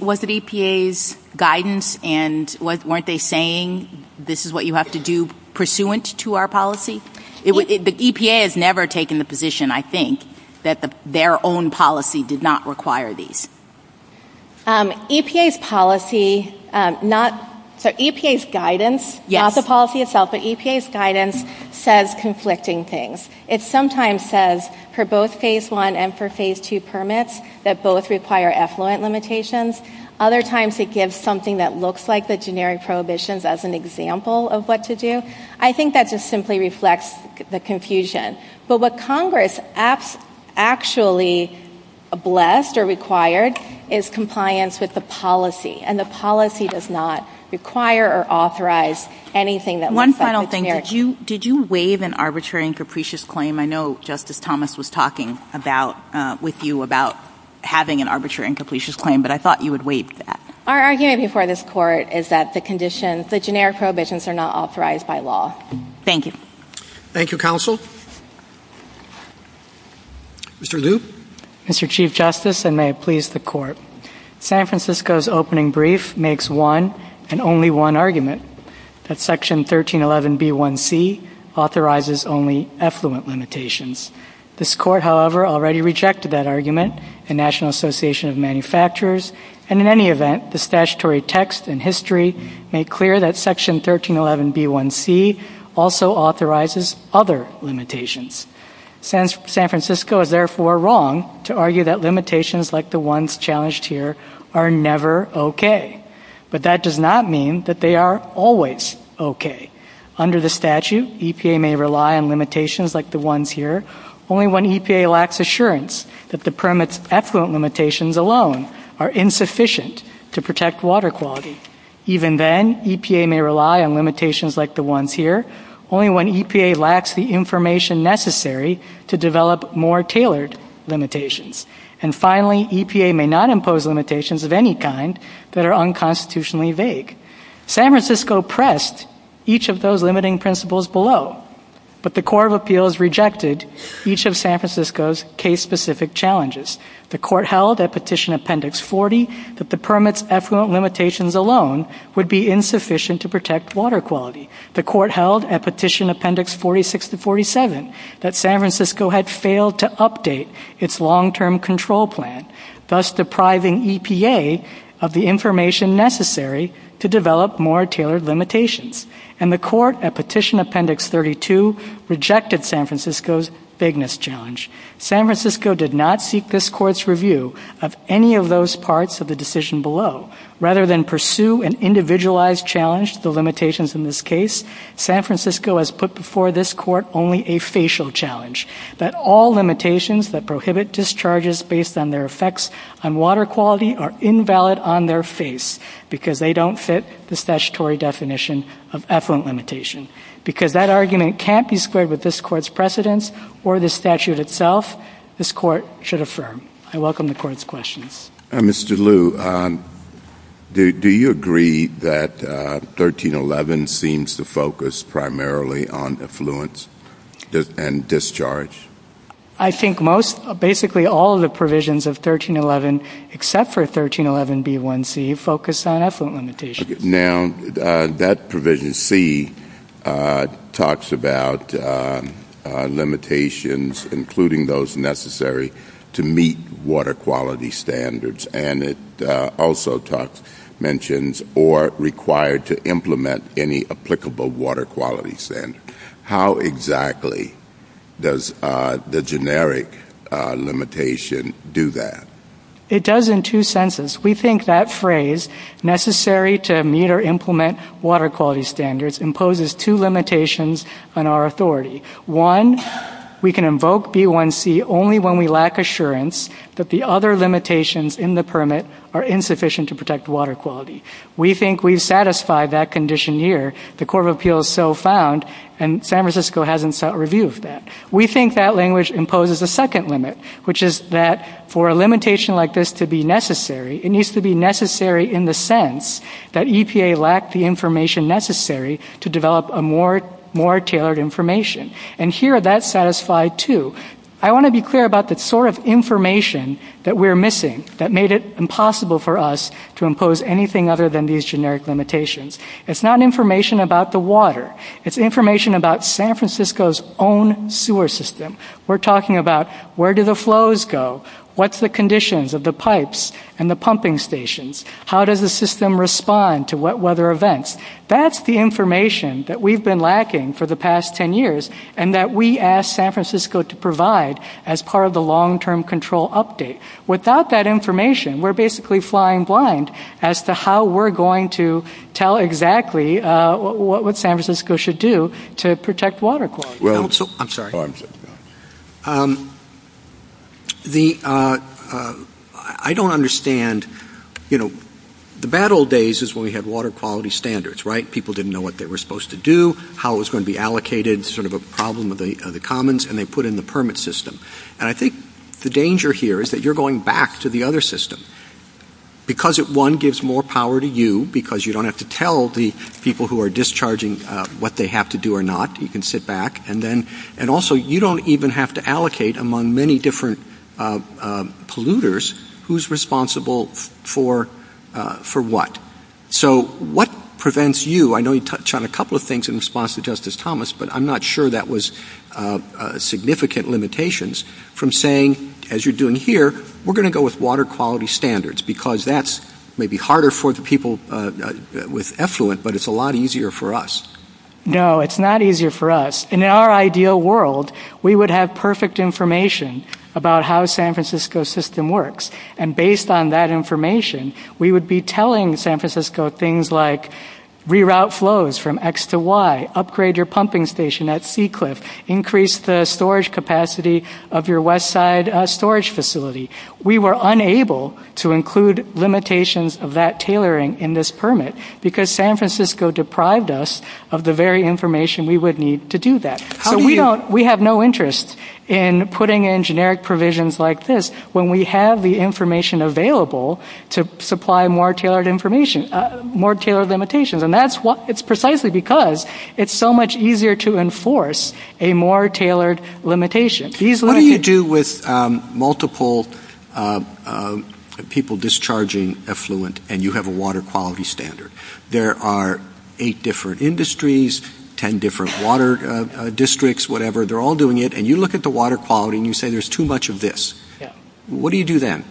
Was it EPA's guidance and weren't they saying this is what you have to do pursuant to our policy? EPA has never taken the position, I think, that their own policy did not require these. EPA's policy, EPA's guidance, not the policy itself, but EPA's guidance says conflicting things. It sometimes says for both Phase I and for Phase II permits that both require effluent limitations. Other times it gives something that looks like the generic prohibitions as an example of what to do. I think that just simply reflects the confusion. But what Congress actually blessed or required is compliance with the policy, and the policy does not require or authorize anything that looks like a permit. One final thing. Did you waive an arbitrary and capricious claim? I know Justice Thomas was talking with you about having an arbitrary and capricious claim, but I thought you would waive that. Our argument before this Court is that the generic prohibitions are not authorized by law. Thank you. Thank you, Counsel. Mr. Lu? Mr. Chief Justice, and may it please the Court, San Francisco's opening brief makes one and only one argument, that Section 1311B1C authorizes only effluent limitations. This Court, however, already rejected that argument in National Association of Manufacturers, and in any event, the statutory text and history make clear that Section 1311B1C also authorizes other limitations. San Francisco is therefore wrong to argue that limitations like the ones challenged here are never okay. But that does not mean that they are always okay. Under the statute, EPA may rely on limitations like the ones here, only when EPA lacks assurance that the permit's effluent limitations alone are insufficient to protect water quality. Even then, EPA may rely on limitations like the ones here, only when EPA lacks the information necessary to develop more tailored limitations. And finally, EPA may not impose limitations of any kind that are unconstitutionally vague. San Francisco pressed each of those limiting principles below, but the Court of Appeals rejected each of San Francisco's case-specific challenges. The Court held at Petition Appendix 40 that the permit's effluent limitations alone would be insufficient to protect water quality. The Court held at Petition Appendix 46-47 that San Francisco had failed to update its long-term control plan, thus depriving EPA of the information necessary to develop more tailored limitations. And the Court at Petition Appendix 32 rejected San Francisco's vagueness challenge. San Francisco did not seek this Court's review of any of those parts of the decision below. Rather than pursue an individualized challenge to the limitations in this case, San Francisco has put before this Court only a facial challenge, that all limitations that prohibit discharges based on their effects on water quality are invalid on their face because they don't fit the statutory definition of effluent limitation. Because that argument can't be squared with this Court's precedence or the statute itself, this Court should affirm. I welcome the Court's questions. Mr. Liu, do you agree that 1311 seems to focus primarily on affluence and discharge? I think basically all the provisions of 1311, except for 1311B1C, focus on affluent limitations. Now, that provision C talks about limitations, including those necessary to meet water quality standards, and it also mentions or required to implement any applicable water quality standards. How exactly does the generic limitation do that? It does in two senses. We think that phrase, necessary to meet or implement water quality standards, imposes two limitations on our authority. One, we can invoke B1C only when we lack assurance that the other limitations in the permit are insufficient to protect water quality. We think we've satisfied that condition here. The Court of Appeals so found, and San Francisco hasn't sought review of that. We think that language imposes a second limit, which is that for a limitation like this to be necessary, it needs to be necessary in the sense that EPA lacked the information necessary to develop a more tailored information. And here, that's satisfied too. I want to be clear about the sort of information that we're missing that made it impossible for us to impose anything other than these generic limitations. It's not information about the water. It's information about San Francisco's own sewer system. We're talking about where do the flows go, what's the conditions of the pipes and the pumping stations, how does the system respond to wet weather events. That's the information that we've been lacking for the past ten years and that we asked San Francisco to provide as part of the long-term control update. Without that information, we're basically flying blind as to how we're going to tell exactly what San Francisco should do to protect water quality. I'm sorry. I don't understand. The bad old days is when we had water quality standards, right? People didn't know what they were supposed to do, how it was going to be allocated, sort of a problem of the commons, and they put in the permit system. And I think the danger here is that you're going back to the other system. Because it, one, gives more power to you because you don't have to tell the people who are discharging what they have to do or not. You can sit back. And also, you don't even have to allocate among many different polluters who's responsible for what. So, what prevents you? I know you touched on a couple of things in response to Justice Thomas, but I'm not sure that was significant limitations from saying, as you're doing here, we're going to go with water quality standards because that's maybe harder for the people with effluent, but it's a lot easier for us. No, it's not easier for us. In our ideal world, we would have perfect information about how San Francisco's system works. And based on that information, we would be telling San Francisco things like reroute flows from X to Y, upgrade your pumping station at Seacliff, increase the storage capacity of your west side storage facility. We were unable to include limitations of that tailoring in this permit because San Francisco deprived us of the very information we would need to do that. We have no interest in putting in generic provisions like this when we have the information available to supply more tailored limitations. And that's precisely because it's so much easier to enforce a more tailored limitation. What do you do with multiple people discharging effluent and you have a water quality standard? There are eight different industries, 10 different water districts, whatever. They're all doing it, and you look at the water quality and you say there's too much of this. What do you do then?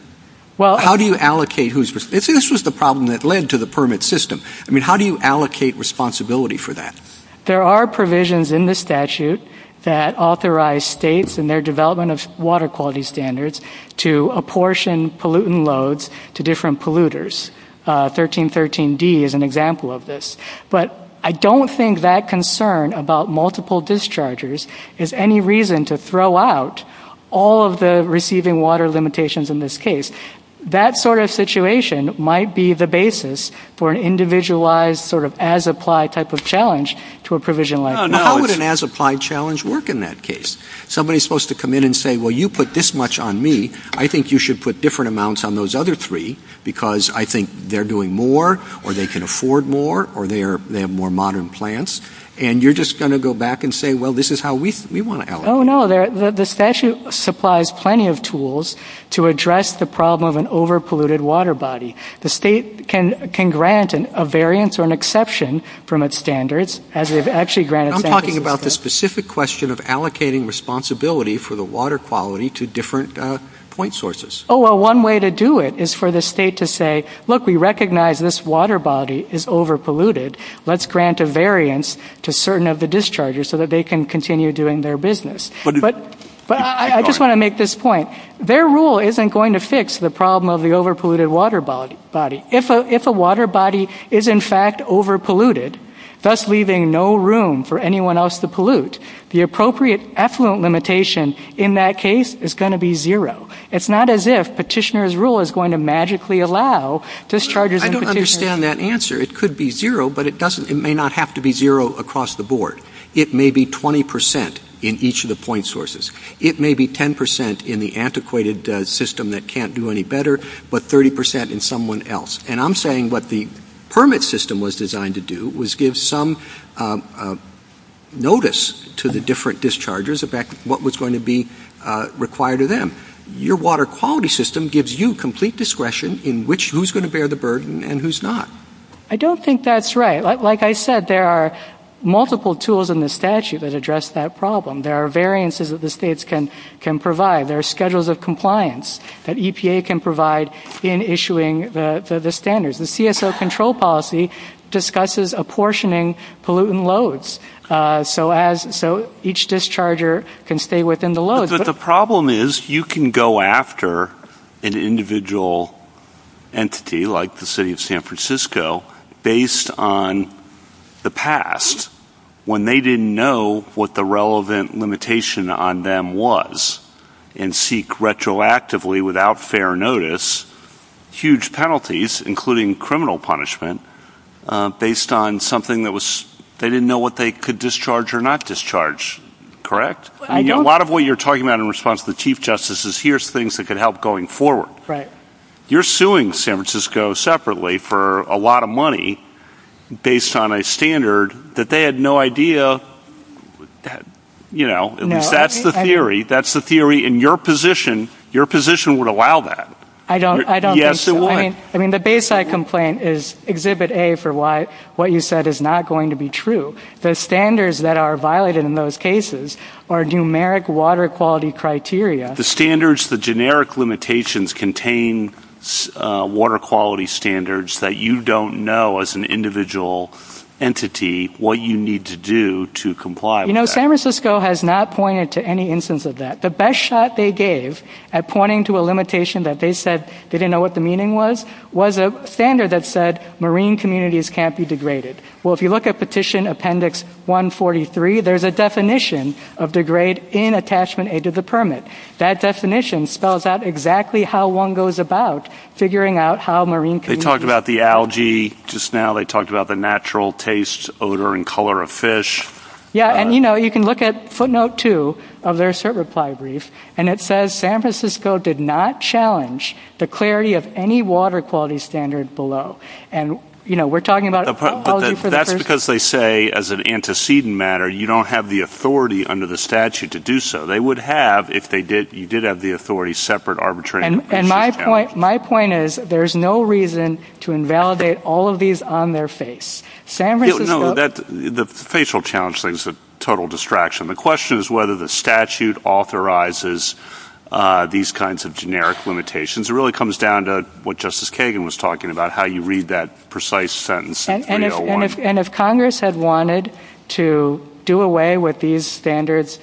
How do you allocate who's – this was the problem that led to the permit system. I mean, how do you allocate responsibility for that? There are provisions in the statute that authorize states in their development of water quality standards to apportion pollutant loads to different polluters. 1313D is an example of this. But I don't think that concern about multiple dischargers is any reason to throw out all of the receiving water limitations in this case. That sort of situation might be the basis for an individualized sort of as-applied type of challenge to a provisionalized challenge. How would an as-applied challenge work in that case? Somebody's supposed to come in and say, well, you put this much on me. I think you should put different amounts on those other three because I think they're doing more or they can afford more or they have more modern plants. And you're just going to go back and say, well, this is how we want to allocate. Oh, no, the statute supplies plenty of tools to address the problem of an over-polluted water body. The state can grant a variance or an exception from its standards as they've actually granted standards. You're talking about the specific question of allocating responsibility for the water quality to different point sources. Oh, well, one way to do it is for the state to say, look, we recognize this water body is over-polluted. Let's grant a variance to certain of the dischargers so that they can continue doing their business. But I just want to make this point. Their rule isn't going to fix the problem of the over-polluted water body. If a water body is, in fact, over-polluted, thus leaving no room for anyone else to pollute, the appropriate affluent limitation in that case is going to be zero. It's not as if Petitioner's rule is going to magically allow dischargers and petitioners. I don't understand that answer. It could be zero, but it may not have to be zero across the board. It may be 20% in each of the point sources. It may be 10% in the antiquated system that can't do any better, but 30% in someone else. And I'm saying what the permit system was designed to do was give some notice to the different dischargers about what was going to be required of them. Your water quality system gives you complete discretion in who's going to bear the burden and who's not. I don't think that's right. Like I said, there are multiple tools in the statute that address that problem. There are variances that the states can provide. There are schedules of compliance that EPA can provide in issuing the standards. The CSO control policy discusses apportioning pollutant loads so each discharger can stay within the load. But the problem is you can go after an individual entity like the city of San Francisco based on the past when they didn't know what the relevant limitation on them was and seek retroactively without fair notice huge penalties, including criminal punishment, based on something that they didn't know what they could discharge or not discharge. Correct? A lot of what you're talking about in response to the Chief Justice is here's things that could help going forward. Right. You're suing San Francisco separately for a lot of money based on a standard that they had no idea, you know, at least that's the theory. That's the theory in your position. Your position would allow that. I don't think so. Yes, it would. I mean the baseline complaint is Exhibit A for what you said is not going to be true. The standards that are violated in those cases are numeric water quality criteria. The standards, the generic limitations contain water quality standards that you don't know as an individual entity what you need to do to comply with that. You know, San Francisco has not pointed to any instance of that. The best shot they gave at pointing to a limitation that they said they didn't know what the meaning was was a standard that said marine communities can't be degraded. Well, if you look at Petition Appendix 143, there's a definition of degrade in Attachment A to the permit. That definition spells out exactly how one goes about figuring out how marine communities can be degraded. They talked about the algae just now. They talked about the natural taste, odor, and color of fish. Yeah, and you know, you can look at footnote two of their cert reply brief, and it says San Francisco did not challenge the clarity of any water quality standard below. And, you know, we're talking about algae for the first time. That's because they say as an antecedent matter, you don't have the authority under the statute to do so. They would have if you did have the authority separate, arbitrary. And my point is there's no reason to invalidate all of these on their face. No, the facial challenge thing is a total distraction. The question is whether the statute authorizes these kinds of generic limitations. It really comes down to what Justice Kagan was talking about, how you read that precise sentence. And if Congress had wanted to do away with these standards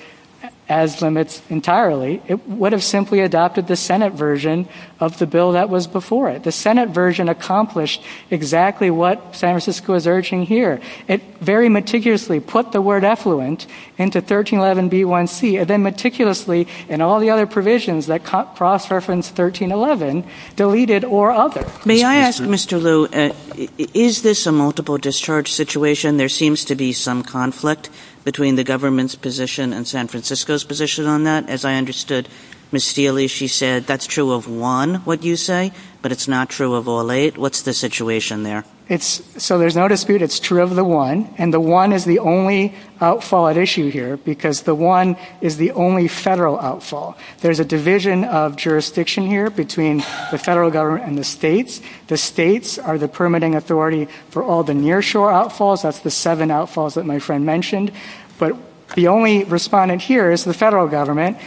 as limits entirely, it would have simply adopted the Senate version of the bill that was before it. The Senate version accomplished exactly what San Francisco is urging here. It very meticulously put the word effluent into 1311b1c, and then meticulously, in all the other provisions that cross-reference 1311, deleted or other. May I ask, Mr. Liu, is this a multiple discharge situation? There seems to be some conflict between the government's position and San Francisco's position on that. As I understood, Ms. Steele, she said that's true of one, what you say, but it's not true of all eight. What's the situation there? So there's no dispute it's true of the one, and the one is the only outfall at issue here because the one is the only federal outfall. There's a division of jurisdiction here between the federal government and the states. The states are the permitting authority for all the nearshore outfalls. That's the seven outfalls that my friend mentioned. But the only respondent here is the federal government.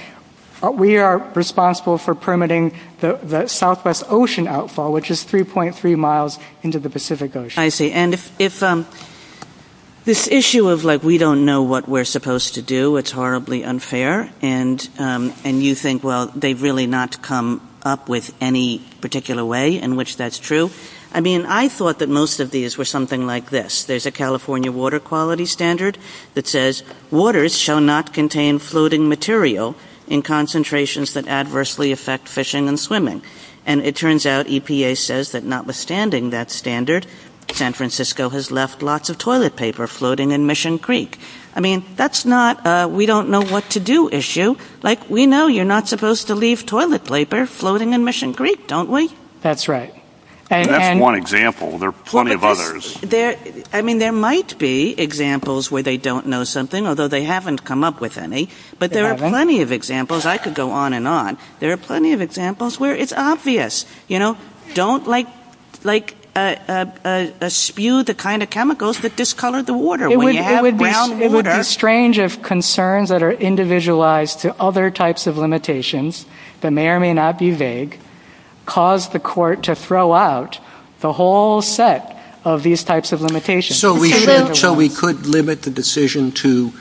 We are responsible for permitting the Southwest Ocean outfall, which is 3.3 miles into the Pacific Ocean. I see. And if this issue of, like, we don't know what we're supposed to do, it's horribly unfair, and you think, well, they've really not come up with any particular way in which that's true. I mean, I thought that most of these were something like this. There's a California water quality standard that says, waters shall not contain floating material in concentrations that adversely affect fishing and swimming. And it turns out EPA says that notwithstanding that standard, San Francisco has left lots of toilet paper floating in Mission Creek. I mean, that's not a we-don't-know-what-to-do issue. Like, we know you're not supposed to leave toilet paper floating in Mission Creek, don't we? That's right. That's one example. There are plenty of others. I mean, there might be examples where they don't know something, although they haven't come up with any. But there are plenty of examples. I could go on and on. There are plenty of examples where it's obvious. Don't, like, spew the kind of chemicals that discolor the water. It would be strange if concerns that are individualized to other types of limitations that may or may not be vague caused the court to throw out the whole set of these types of limitations. So we could limit the decision to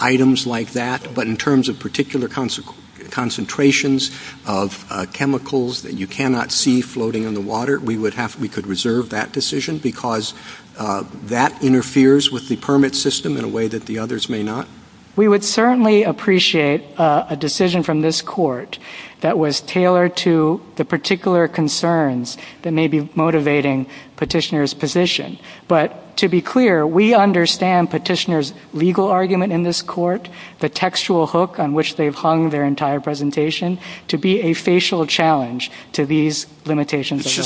items like that, but in terms of particular concentrations of chemicals that you cannot see floating in the water, we could reserve that decision because that interferes with the permit system in a way that the others may not. We would certainly appreciate a decision from this court that was tailored to the particular concerns that may be motivating petitioner's position. But to be clear, we understand petitioner's legal argument in this court, the textual hook on which they've hung their entire presentation, to be a facial challenge to these limitations. It's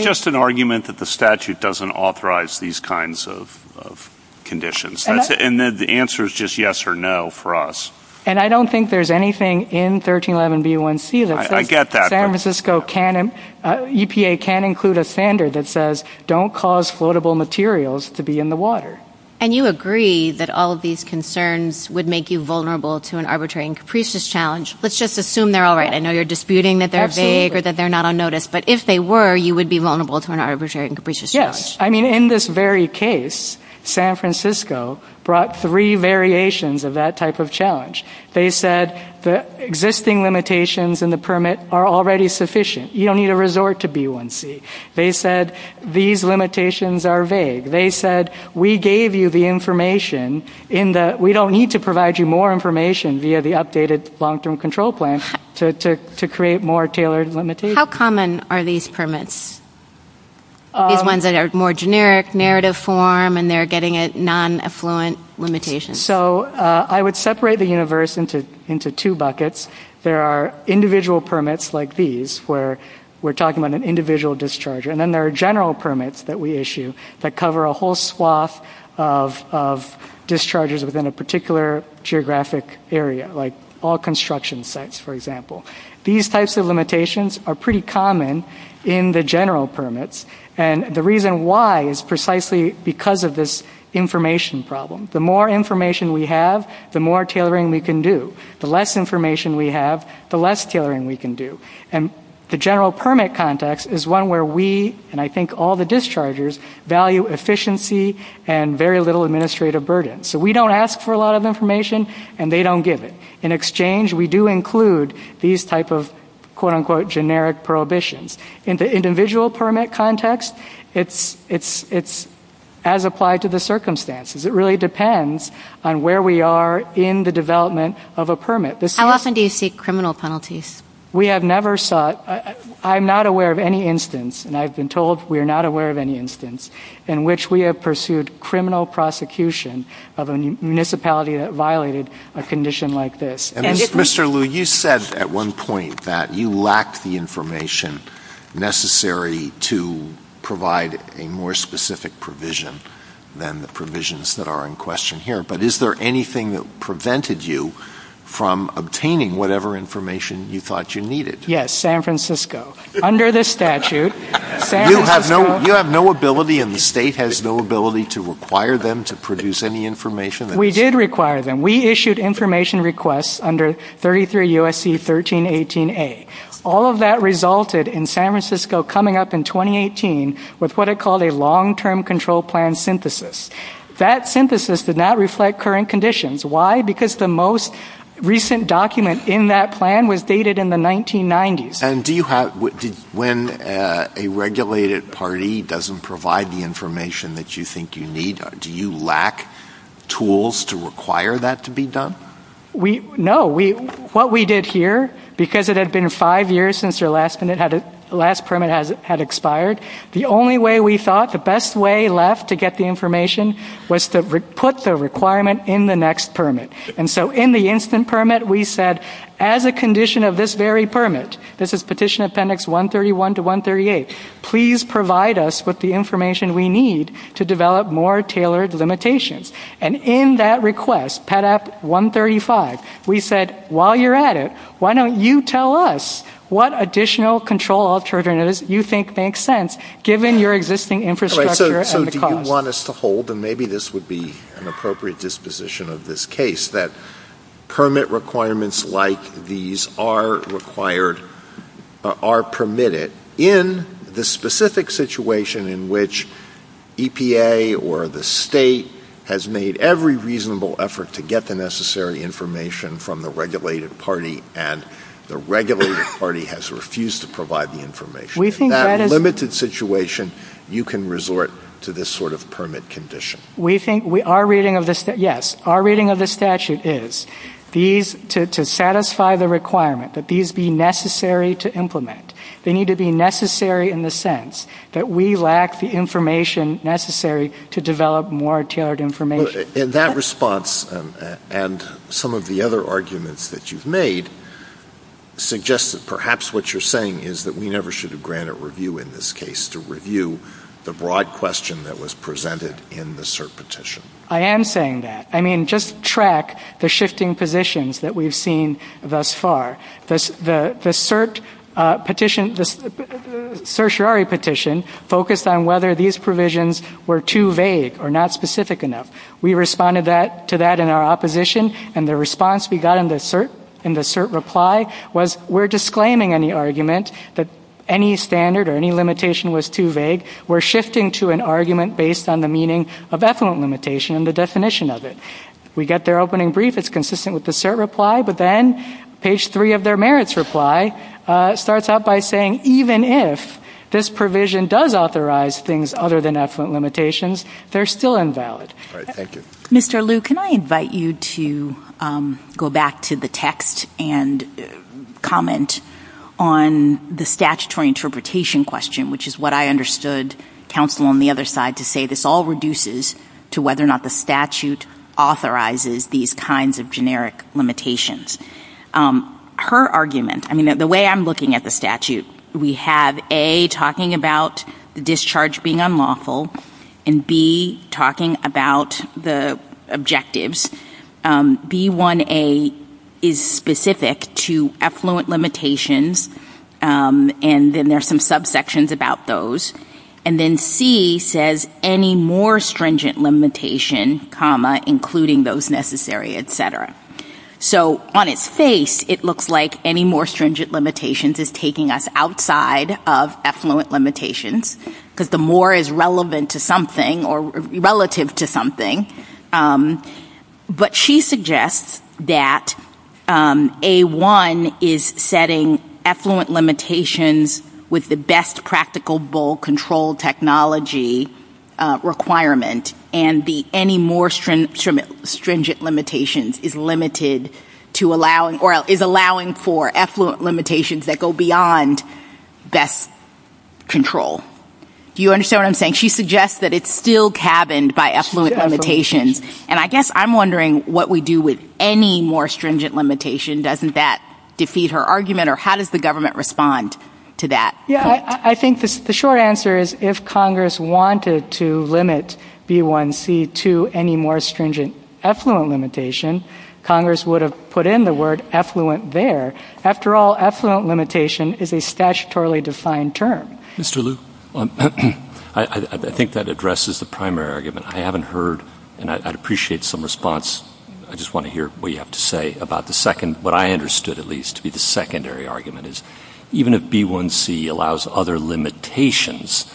just an argument that the statute doesn't authorize these kinds of conditions. And the answer is just yes or no for us. And I don't think there's anything in 1311 B.1.C. I get that. EPA can include a standard that says don't cause floatable materials to be in the water. And you agree that all of these concerns would make you vulnerable to an arbitrary and capricious challenge. Let's just assume they're all right. I know you're disputing that they're vague or that they're not on notice, but if they were, you would be vulnerable to an arbitrary and capricious challenge. Yes. I mean, in this very case, San Francisco brought three variations of that type of challenge. They said the existing limitations in the permit are already sufficient. You don't need to resort to B.1.C. They said these limitations are vague. They said we gave you the information. We don't need to provide you more information via the updated long-term control plan to create more tailored limitations. How common are these permits? These ones that are more generic, narrative form, and they're getting a non-affluent limitation. So I would separate the universe into two buckets. There are individual permits like these where we're talking about an individual discharger, and then there are general permits that we issue that cover a whole swath of dischargers within a particular geographic area, like all construction sites, for example. These types of limitations are pretty common in the general permits, and the reason why is precisely because of this information problem. The more information we have, the more tailoring we can do. The less information we have, the less tailoring we can do. And the general permit context is one where we, and I think all the dischargers, value efficiency and very little administrative burden. So we don't ask for a lot of information, and they don't give it. In exchange, we do include these type of quote-unquote generic prohibitions. In the individual permit context, it's as applied to the circumstances. It really depends on where we are in the development of a permit. How often do you seek criminal penalties? We have never sought. I'm not aware of any instance, and I've been told we are not aware of any instance, in which we have pursued criminal prosecution of a municipality that violated a condition like this. And Mr. Liu, you said at one point that you lacked the information necessary to provide a more specific provision than the provisions that are in question here. But is there anything that prevented you from obtaining whatever information you thought you needed? Yes, San Francisco, under the statute. You have no ability, and the state has no ability, to require them to produce any information? We did require them. We issued information requests under 33 U.S.C. 1318A. All of that resulted in San Francisco coming up in 2018 with what I call a long-term control plan synthesis. That synthesis did not reflect current conditions. Why? Because the most recent document in that plan was dated in the 1990s. And when a regulated party doesn't provide the information that you think you need, do you lack tools to require that to be done? No. What we did here, because it had been five years since your last permit had expired, the only way we thought, the best way left to get the information, was to put the requirement in the next permit. And so in the instant permit, we said, as a condition of this very permit, this is Petition Appendix 131 to 138, please provide us with the information we need to develop more tailored limitations. And in that request, Pet App 135, we said, while you're at it, why don't you tell us what additional control alternatives you think make sense, given your existing infrastructure and the cost? So do you want us to hold, and maybe this would be an appropriate disposition of this case, that permit requirements like these are permitted in the specific situation in which EPA or the state has made every reasonable effort to get the necessary information from the regulated party, and the regulated party has refused to provide the information. In that limited situation, you can resort to this sort of permit condition. Yes, our reading of the statute is, to satisfy the requirement that these be necessary to implement, they need to be necessary in the sense that we lack the information necessary to develop more tailored information. In that response, and some of the other arguments that you've made, suggest that perhaps what you're saying is that we never should have granted review in this case the broad question that was presented in the CERT petition. I am saying that. I mean, just track the shifting positions that we've seen thus far. The CERT petition, the certiorari petition, focused on whether these provisions were too vague or not specific enough. We responded to that in our opposition, and the response we got in the CERT reply was, we're disclaiming any argument that any standard or any limitation was too vague. We're shifting to an argument based on the meaning of effluent limitation and the definition of it. We get their opening brief. It's consistent with the CERT reply. But then, page three of their merits reply starts out by saying, even if this provision does authorize things other than effluent limitations, they're still invalid. Mr. Liu, can I invite you to go back to the text and comment on the statutory interpretation question, which is what I understood counsel on the other side to say, this all reduces to whether or not the statute authorizes these kinds of generic limitations. Her argument, I mean, the way I'm looking at the statute, we have, A, talking about the discharge being unlawful, and B, talking about the objectives. B1A is specific to effluent limitations, and then there's some subsections about those. And then C says, any more stringent limitation, including those necessary, et cetera. So, on its face, it looks like any more stringent limitations is taking us outside of effluent limitations, because the more is relevant to something or relative to something. But she suggests that A1 is setting effluent limitations with the best practical, control technology requirement, and the any more stringent limitations is limited to allowing, or is allowing for effluent limitations that go beyond best control. Do you understand what I'm saying? She suggests that it's still cabined by effluent limitations. And I guess I'm wondering what we do with any more stringent limitation. Doesn't that defeat her argument, or how does the government respond to that? Yeah, I think the short answer is if Congress wanted to limit B1C to any more stringent effluent limitation, Congress would have put in the word effluent there. After all, effluent limitation is a statutorily defined term. Mr. Liu, I think that addresses the primary argument. I haven't heard, and I'd appreciate some response. I just want to hear what you have to say about the second, what I understood, at least, to be the secondary argument is even if B1C allows other limitations,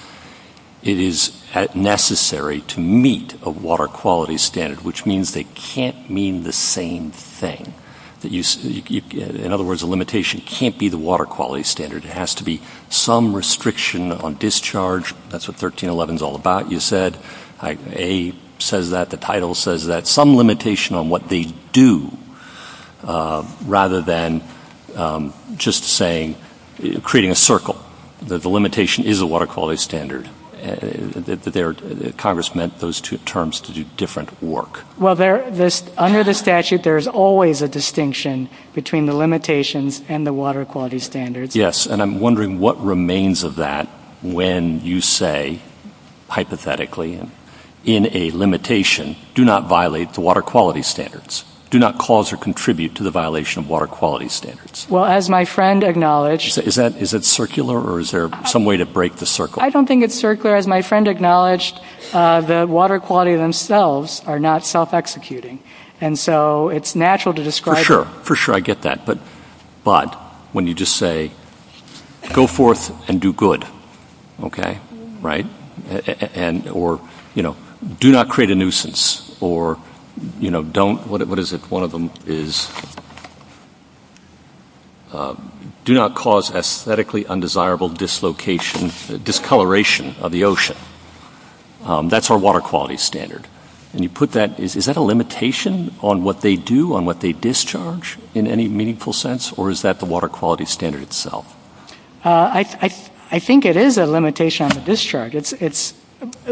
it is necessary to meet a water quality standard, which means they can't mean the same thing. In other words, a limitation can't be the water quality standard. It has to be some restriction on discharge. That's what 1311 is all about, you said. A says that. The title says that. Some limitation on what they do, rather than just saying, creating a circle, that the limitation is a water quality standard. Congress meant those two terms to do different work. Well, under the statute, there's always a distinction between the limitations and the water quality standards. Yes, and I'm wondering what remains of that when you say, hypothetically, in a limitation, do not violate the water quality standards. Do not cause or contribute to the violation of water quality standards. Well, as my friend acknowledged. Is it circular, or is there some way to break the circle? I don't think it's circular. As my friend acknowledged, the water quality themselves are not self-executing, and so it's natural to describe it. For sure. For sure, I get that. But when you just say, go forth and do good, okay? Right? Or, you know, do not create a nuisance. Or, you know, don't. What is it? One of them is, do not cause aesthetically undesirable dislocation, discoloration of the ocean. That's our water quality standard. And you put that. Is that a limitation on what they do, on what they discharge, in any meaningful sense? Or is that the water quality standard itself? I think it is a limitation on the discharge. It's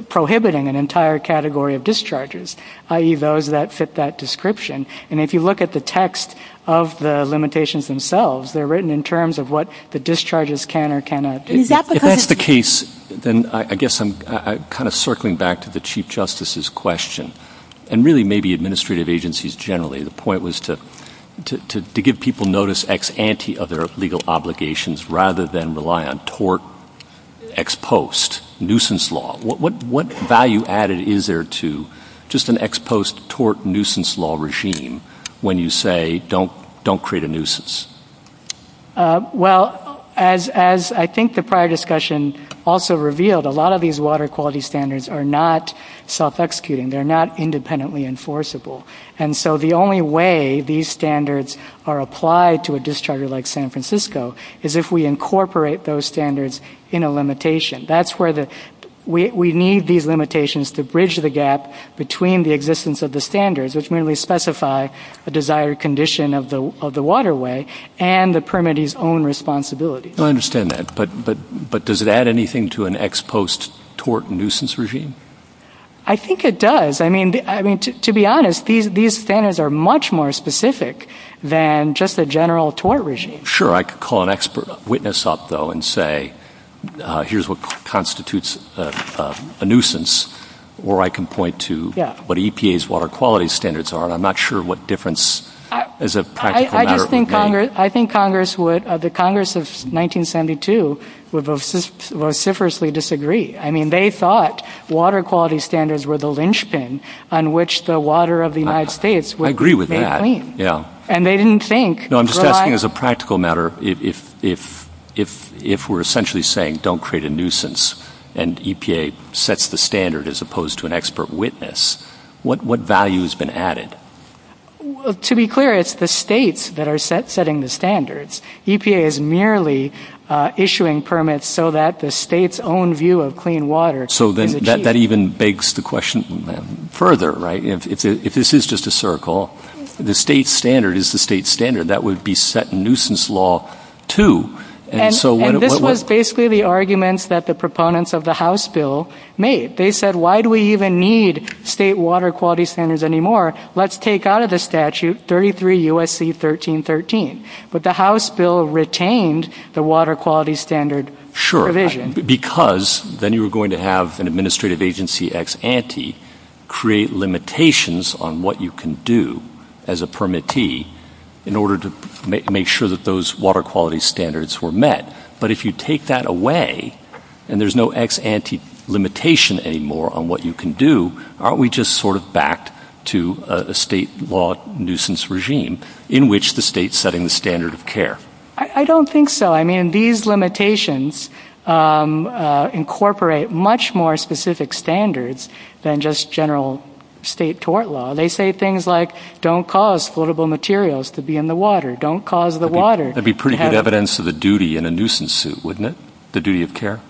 prohibiting an entire category of discharges, i.e., those that fit that description. And if you look at the text of the limitations themselves, they're written in terms of what the discharges can or cannot do. If that's the case, then I guess I'm kind of circling back to the Chief Justice's question, and really maybe administrative agencies generally. The point was to give people notice ex ante of their legal obligations rather than rely on tort ex post, nuisance law. What value added is there to just an ex post tort nuisance law regime when you say, don't create a nuisance? Well, as I think the prior discussion also revealed, a lot of these water quality standards are not self-executing. They're not independently enforceable. And so the only way these standards are applied to a discharger like San Francisco is if we incorporate those standards in a limitation. We need these limitations to bridge the gap between the existence of the standards, which merely specify a desired condition of the waterway, and the permittee's own responsibilities. I understand that. But does it add anything to an ex post tort nuisance regime? I think it does. I mean, to be honest, these standards are much more specific than just the general tort regime. I could call an expert witness up, though, and say, here's what constitutes a nuisance, or I can point to what EPA's water quality standards are, and I'm not sure what difference as a practical matter it would make. I think Congress would, the Congress of 1972, would vociferously disagree. I mean, they thought water quality standards were the linchpin on which the water of the United States would be made clean. I agree with that. And they didn't think. No, I'm just asking as a practical matter, if we're essentially saying, don't create a nuisance, and EPA sets the standard as opposed to an expert witness, what value has been added? To be clear, it's the states that are setting the standards. EPA is merely issuing permits so that the state's own view of clean water can be achieved. So that even begs the question further, right? If this is just a circle, the state standard is the state standard. That would be set in nuisance law too. And this was basically the arguments that the proponents of the House bill made. They said, why do we even need state water quality standards anymore? Let's take out of the statute 33 U.S.C. 1313. But the House bill retained the water quality standard provision. Because then you were going to have an administrative agency ex ante create limitations on what you can do as a permittee in order to make sure that those water quality standards were met. But if you take that away, and there's no ex ante limitation anymore on what you can do, aren't we just sort of back to a state law nuisance regime in which the state is setting the standard of care? I don't think so. I mean, these limitations incorporate much more specific standards than just general state tort law. They say things like, don't cause floatable materials to be in the water. Don't cause the water. That would be pretty good evidence of the duty in a nuisance suit, wouldn't it? The duty of care?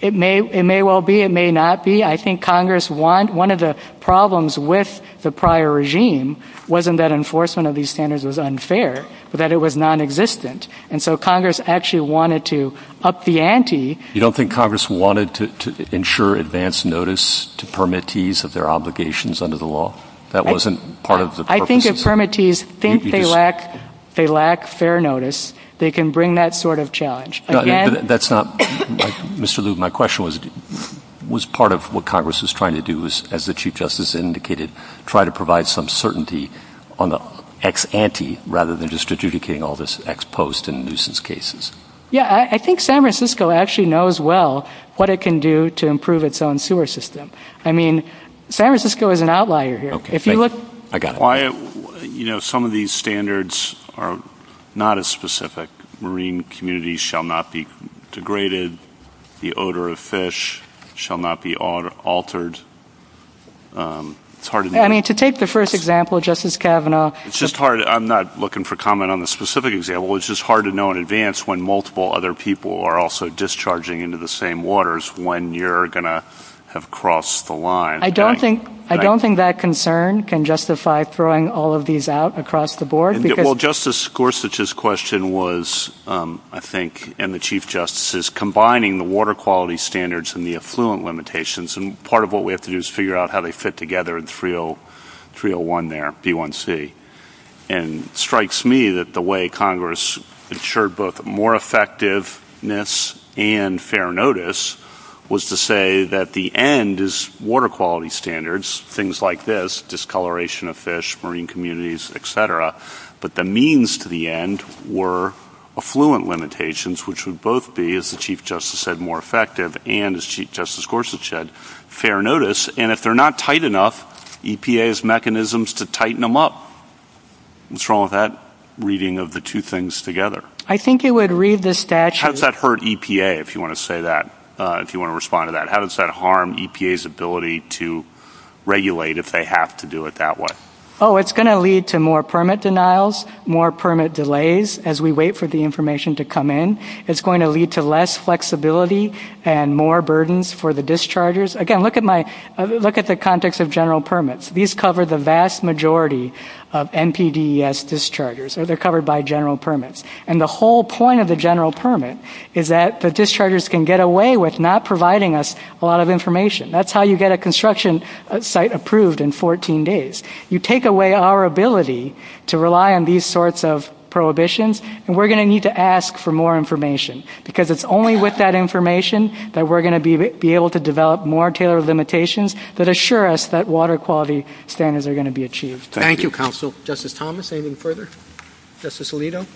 It may well be. It may not be. I think Congress, one of the problems with the prior regime wasn't that enforcement of these standards was unfair, but that it was nonexistent. And so Congress actually wanted to up the ante. You don't think Congress wanted to ensure advance notice to permittees of their obligations under the law? That wasn't part of the purpose? I think if permittees think they lack fair notice, they can bring that sort of challenge. Mr. Lube, my question was, was part of what Congress is trying to do is, as the Chief Justice indicated, try to provide some certainty on the ex ante rather than just adjudicating all this ex post and nuisance cases? Yeah, I think San Francisco actually knows well what it can do to improve its own sewer system. I mean, San Francisco is an outlier here. I got it. You know, some of these standards are not as specific. Marine communities shall not be degraded. The odor of fish shall not be altered. I mean, to take the first example, Justice Kavanaugh. It's just hard. I'm not looking for comment on the specific example. It's just hard to know in advance when multiple other people are also discharging into the same waters when you're going to have crossed the line. I don't think that concern can justify throwing all of these out across the board. Well, Justice Gorsuch's question was, I think, and the Chief Justice's, combining the water quality standards and the affluent limitations. And part of what we have to do is figure out how they fit together in 301 there, B1C. And it strikes me that the way Congress ensured both more effectiveness and fair notice was to say that the end is water quality standards, things like this, discoloration of fish, marine communities, etc. But the means to the end were affluent limitations, which would both be, as the Chief Justice said, more effective and, as Chief Justice Gorsuch said, fair notice. And if they're not tight enough, EPA has mechanisms to tighten them up. What's wrong with that reading of the two things together? I think it would read the statute. How does that hurt EPA, if you want to respond to that? How does that harm EPA's ability to regulate if they have to do it that way? Oh, it's going to lead to more permit denials, more permit delays, as we wait for the information to come in. It's going to lead to less flexibility and more burdens for the dischargers. Again, look at the context of general permits. These cover the vast majority of NPDES dischargers. They're covered by general permits. And the whole point of the general permit is that the dischargers can get away with not providing us a lot of information. That's how you get a construction site approved in 14 days. You take away our ability to rely on these sorts of prohibitions, and we're going to need to ask for more information, because it's only with that information that we're going to be able to develop more tailored limitations that assure us that water quality standards are going to be achieved. Thank you, Counsel. Justice Thomas, anything further? Justice Alito?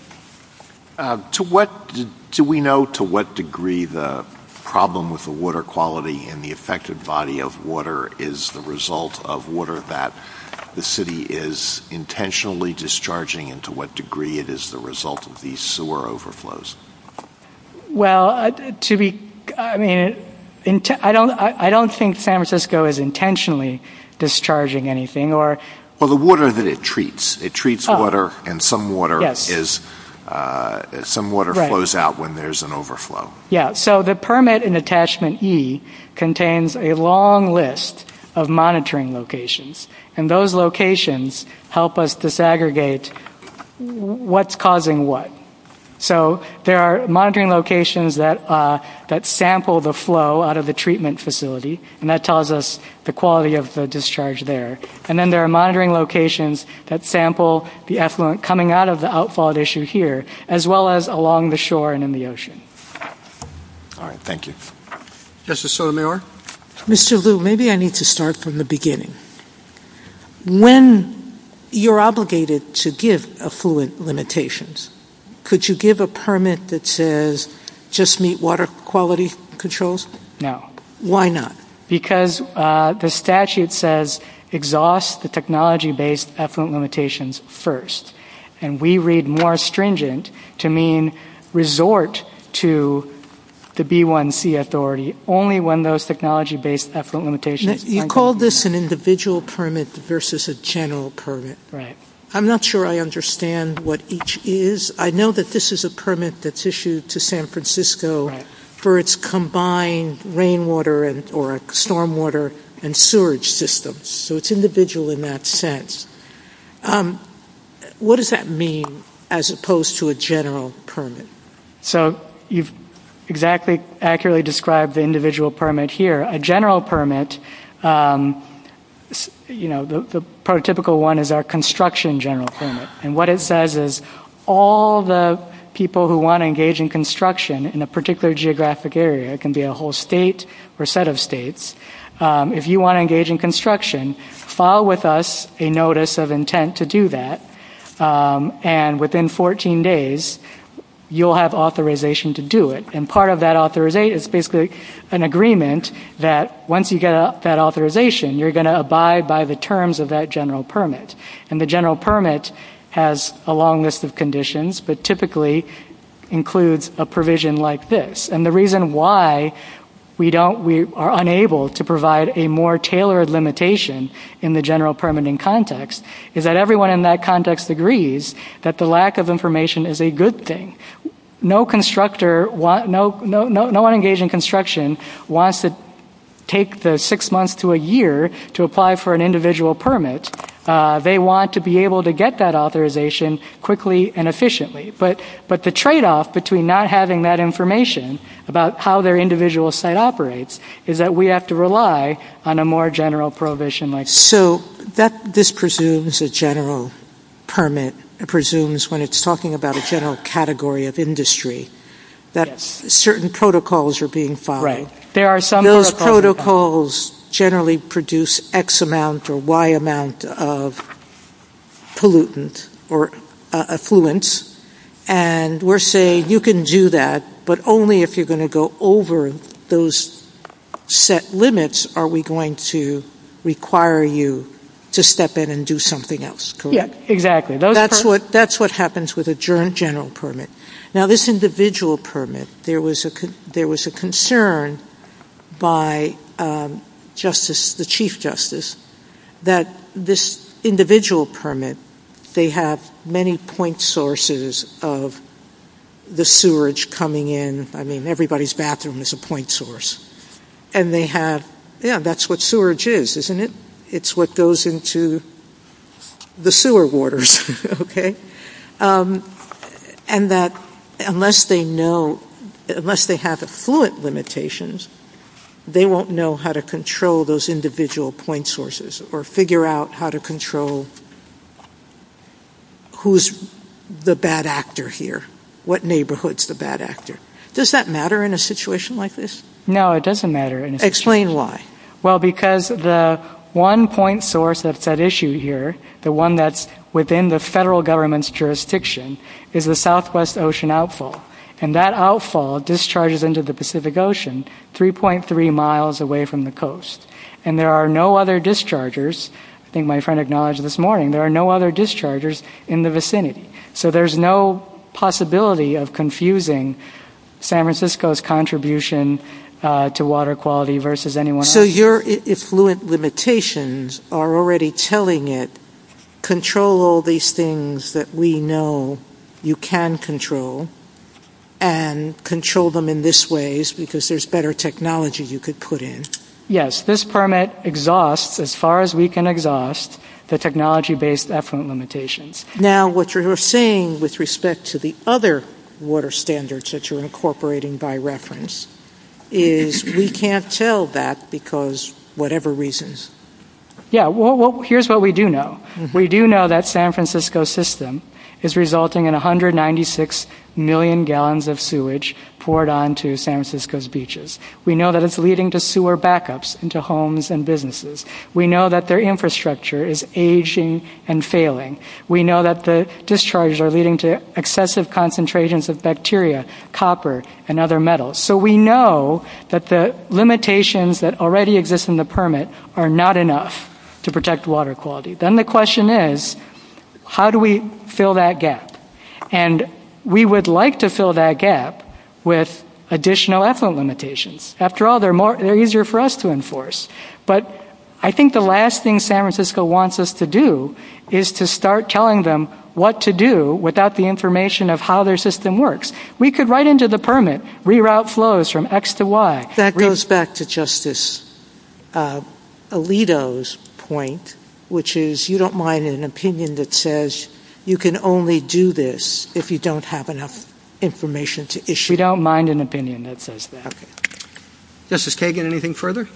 Do we know to what degree the problem with the water quality and the affected body of water is the result of water that the city is intentionally discharging, and to what degree it is the result of these sewer overflows? Well, I don't think San Francisco is intentionally discharging anything. Well, the water that it treats. It treats water, and some water flows out when there's an overflow. Yeah. So the permit in Attachment E contains a long list of monitoring locations, and those locations help us disaggregate what's causing what. So there are monitoring locations that sample the flow out of the treatment facility, and that tells us the quality of the discharge there. And then there are monitoring locations that sample the effluent coming out of the outflow issue here, as well as along the shore and in the ocean. All right. Thank you. Justice Sotomayor? Mr. Liu, maybe I need to start from the beginning. When you're obligated to give effluent limitations, could you give a permit that says just meet water quality controls? No. Why not? Because the statute says exhaust the technology-based effluent limitations first, and we read more stringent to mean resort to the B1C authority only when those technology-based effluent limitations are met. You called this an individual permit versus a general permit. Right. I'm not sure I understand what each is. I know that this is a permit that's issued to San Francisco for its combined rainwater or stormwater and sewage systems. So it's individual in that sense. What does that mean as opposed to a general permit? So you've exactly accurately described the individual permit here. A general permit, you know, the prototypical one is our construction general permit. And what it says is all the people who want to engage in construction in a particular geographic area, it can be a whole state or set of states, if you want to engage in construction, file with us a notice of intent to do that, and within 14 days you'll have authorization to do it. And part of that authorization is basically an agreement that once you get that authorization, you're going to abide by the terms of that general permit. And the general permit has a long list of conditions but typically includes a provision like this. And the reason why we are unable to provide a more tailored limitation in the general permitting context is that everyone in that context agrees that the lack of information is a good thing. No constructor, no one engaged in construction wants to take the six months to a year to apply for an individual permit. They want to be able to get that authorization quickly and efficiently. But the tradeoff between not having that information about how their individual site operates is that we have to rely on a more general provision like this. So this presumes a general permit, presumes when it's talking about a general category of industry, that certain protocols are being followed. Those protocols generally produce X amount or Y amount of pollutants or effluents, and we're saying you can do that, but only if you're going to go over those set limits are we going to require you to step in and do something else, correct? Yes, exactly. That's what happens with a general permit. Now, this individual permit, there was a concern by the Chief Justice that this individual permit, they have many point sources of the sewage coming in. I mean, everybody's bathroom is a point source. And they have, yeah, that's what sewage is, isn't it? It's what goes into the sewer waters, okay? And that unless they know, unless they have effluent limitations, they won't know how to control those individual point sources or figure out how to control who's the bad actor here, what neighborhood's the bad actor. Does that matter in a situation like this? No, it doesn't matter. Explain why. Well, because the one point source of that issue here, the one that's within the federal government's jurisdiction, is the Southwest Ocean outfall. And that outfall discharges into the Pacific Ocean 3.3 miles away from the coast. And there are no other dischargers, I think my friend acknowledged this morning, there are no other dischargers in the vicinity. So there's no possibility of confusing San Francisco's contribution to water quality versus anyone else's. So your effluent limitations are already telling it, control all these things that we know you can control and control them in this way because there's better technology you could put in. Yes, this permit exhausts, as far as we can exhaust, the technology-based effluent limitations. Now, what you're saying with respect to the other water standards that you're incorporating by reference is we can't tell that because whatever reasons. Yeah, well, here's what we do know. We do know that San Francisco's system is resulting in 196 million gallons of sewage poured onto San Francisco's beaches. We know that it's leading to sewer backups into homes and businesses. We know that their infrastructure is aging and failing. We know that the discharges are leading to excessive concentrations of bacteria, copper, and other metals. So we know that the limitations that already exist in the permit are not enough to protect water quality. Then the question is, how do we fill that gap? And we would like to fill that gap with additional effluent limitations. After all, they're easier for us to enforce. But I think the last thing San Francisco wants us to do is to start telling them what to do without the information of how their system works. We could write into the permit, reroute flows from X to Y. That goes back to Justice Alito's point, which is you don't mind an opinion that says you can only do this if you don't have enough information to issue. You don't mind an opinion that says that. Justice Kagan, anything further?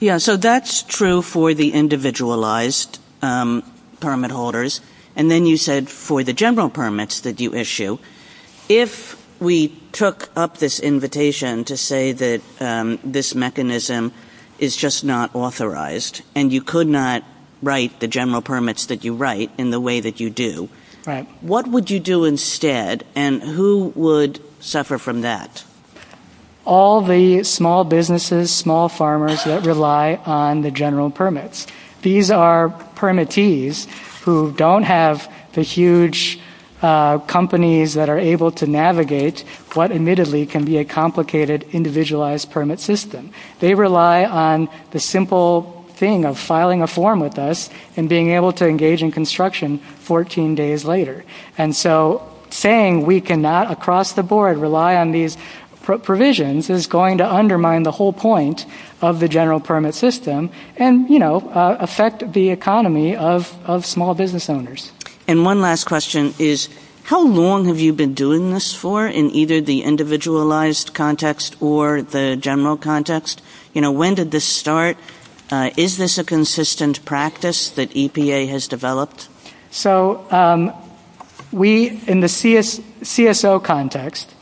Yeah, so that's true for the individualized permit holders. And then you said for the general permits that you issue, if we took up this invitation to say that this mechanism is just not authorized and you could not write the general permits that you write in the way that you do, what would you do instead? And who would suffer from that? All the small businesses, small farmers that rely on the general permits. These are permittees who don't have the huge companies that are able to navigate what admittedly can be a complicated individualized permit system. They rely on the simple thing of filing a form with us and being able to engage in construction 14 days later. And so saying we cannot across the board rely on these provisions is going to undermine the whole point of the general permit system and affect the economy of small business owners. And one last question is how long have you been doing this for in either the individualized context or the general context? When did this start? Is this a consistent practice that EPA has developed? So in the CSO context,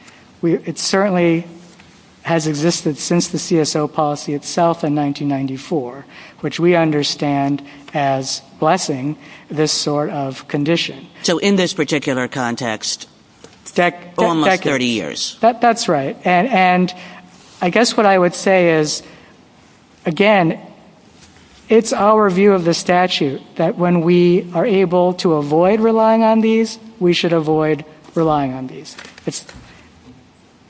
it certainly has existed since the CSO policy itself in 1994, which we understand as blessing this sort of condition. So in this particular context, almost 30 years. That's right. I guess what I would say is, again, it's our view of the statute that when we are able to avoid relying on these, we should avoid relying on these.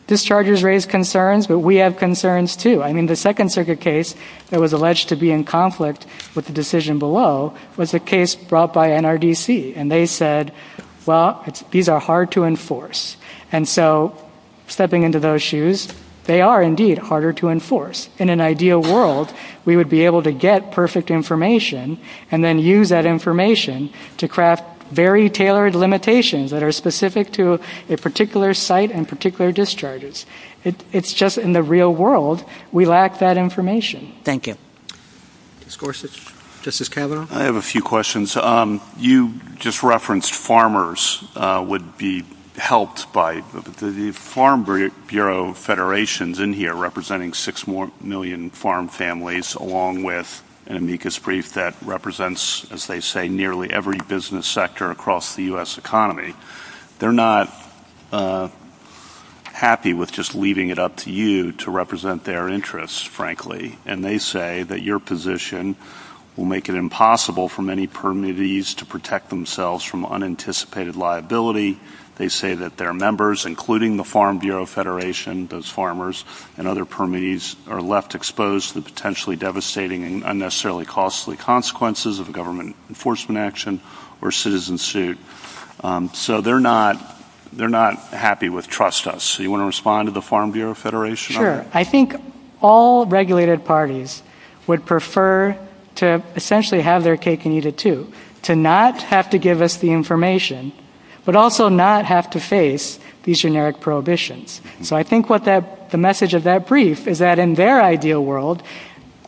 Discharges raise concerns, but we have concerns, too. I mean, the Second Circuit case that was alleged to be in conflict with the decision below was a case brought by NRDC. And they said, well, these are hard to enforce. And so stepping into those shoes, they are, indeed, harder to enforce. In an ideal world, we would be able to get perfect information and then use that information to craft very tailored limitations that are specific to a particular site and particular discharges. It's just in the real world, we lack that information. Thank you. Justice Gorsuch? Justice Kavanaugh? I have a few questions. You just referenced farmers would be helped by the Farm Bureau Federation is in here representing 6 million farm families, along with an amicus brief that represents, as they say, nearly every business sector across the U.S. economy. They're not happy with just leaving it up to you to represent their interests, frankly. And they say that your position will make it impossible for many permittees to protect themselves from unanticipated liability. They say that their members, including the Farm Bureau Federation, those farmers and other permittees, are left exposed to the potentially devastating and unnecessarily costly consequences of government enforcement action or citizen suit. So they're not happy with trust us. Do you want to respond to the Farm Bureau Federation? Sure. I think all regulated parties would prefer to essentially have their cake and eat it, too, to not have to give us the information but also not have to face these generic prohibitions. So I think the message of that brief is that in their ideal world,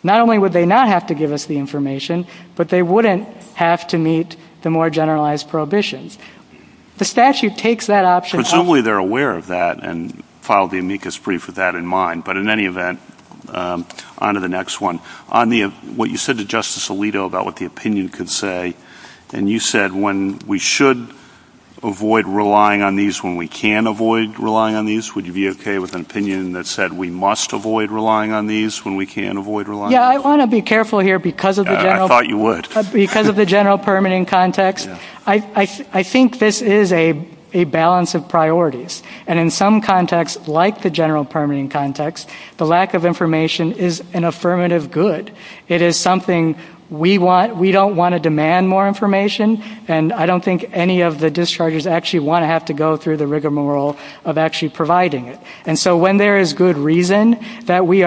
not only would they not have to give us the information, but they wouldn't have to meet the more generalized prohibitions. The statute takes that option. And it's only they're aware of that and filed the amicus brief with that in mind. But in any event, on to the next one. On what you said to Justice Alito about what the opinion could say, and you said when we should avoid relying on these when we can avoid relying on these, would you be okay with an opinion that said we must avoid relying on these when we can avoid relying on these? Yeah, I want to be careful here because of the general permitting context. I think this is a balance of priorities. And in some contexts, like the general permitting context, the lack of information is an affirmative good. It is something we don't want to demand more information, and I don't think any of the dischargers actually want to have to go through the rigmarole of actually providing it. And so when there is good reason that we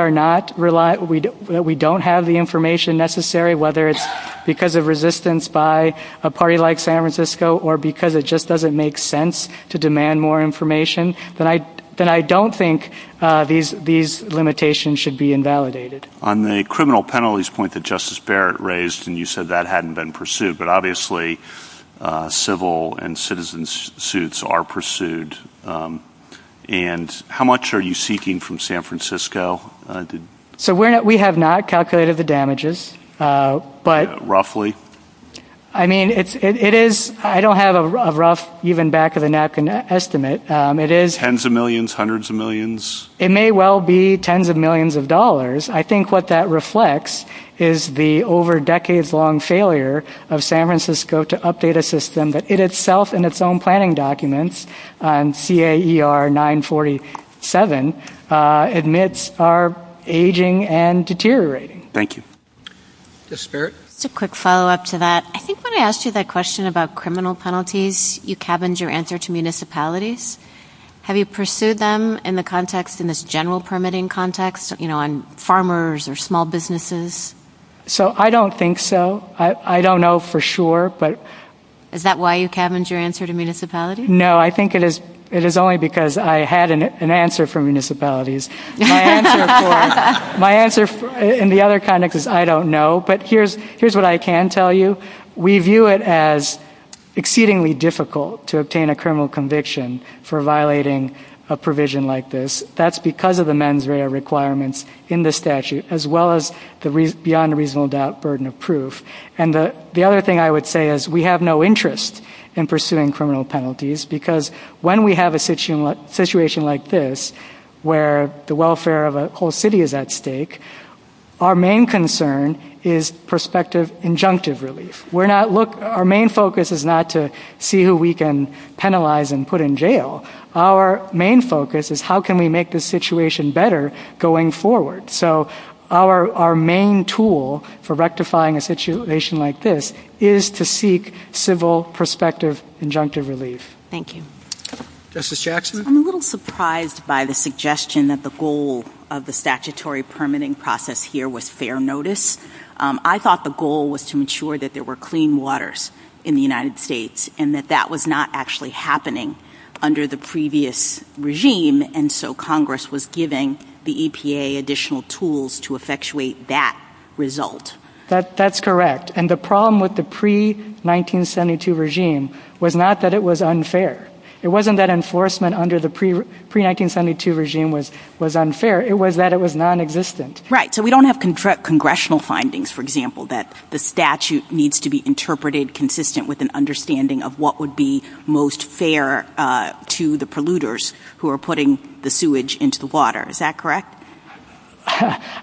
don't have the information necessary, whether it's because of resistance by a party like San Francisco or because it just doesn't make sense to demand more information, then I don't think these limitations should be invalidated. On the criminal penalties point that Justice Barrett raised, and you said that hadn't been pursued, but obviously civil and citizen suits are pursued. And how much are you seeking from San Francisco? So we have not calculated the damages. Roughly? I mean, I don't have a rough, even back-of-the-neck estimate. Tens of millions? Hundreds of millions? It may well be tens of millions of dollars. I think what that reflects is the over-decades-long failure of San Francisco to update a system that it itself and its own planning documents, CAER 947, admits are aging and deteriorating. Thank you. Justice Barrett? Just a quick follow-up to that. I think when I asked you that question about criminal penalties, you cabined your answer to municipalities. Have you pursued them in the context, in this general permitting context, on farmers or small businesses? So I don't think so. I don't know for sure. Is that why you cabined your answer to municipalities? No, I think it is only because I had an answer for municipalities. My answer in the other context is I don't know. But here's what I can tell you. We view it as exceedingly difficult to obtain a criminal conviction for violating a provision like this. That's because of the mens rea requirements in the statute, as well as the beyond reasonable doubt burden of proof. And the other thing I would say is we have no interest in pursuing criminal penalties because when we have a situation like this where the welfare of a whole city is at stake, our main concern is prospective injunctive relief. Our main focus is not to see who we can penalize and put in jail. Our main focus is how can we make this situation better going forward? So our main tool for rectifying a situation like this is to seek civil prospective injunctive relief. Thank you. Justice Jackson? I'm a little surprised by the suggestion that the goal of the statutory permitting process here was fair notice. I thought the goal was to ensure that there were clean waters in the United States and that that was not actually happening under the previous regime, and so Congress was giving the EPA additional tools to effectuate that result. That's correct. And the problem with the pre-1972 regime was not that it was unfair. It wasn't that enforcement under the pre-1972 regime was unfair. It was that it was nonexistent. Right. So we don't have congressional findings, for example, that the statute needs to be interpreted consistent with an understanding of what would be most fair to the polluters who are putting the sewage into the water. Is that correct?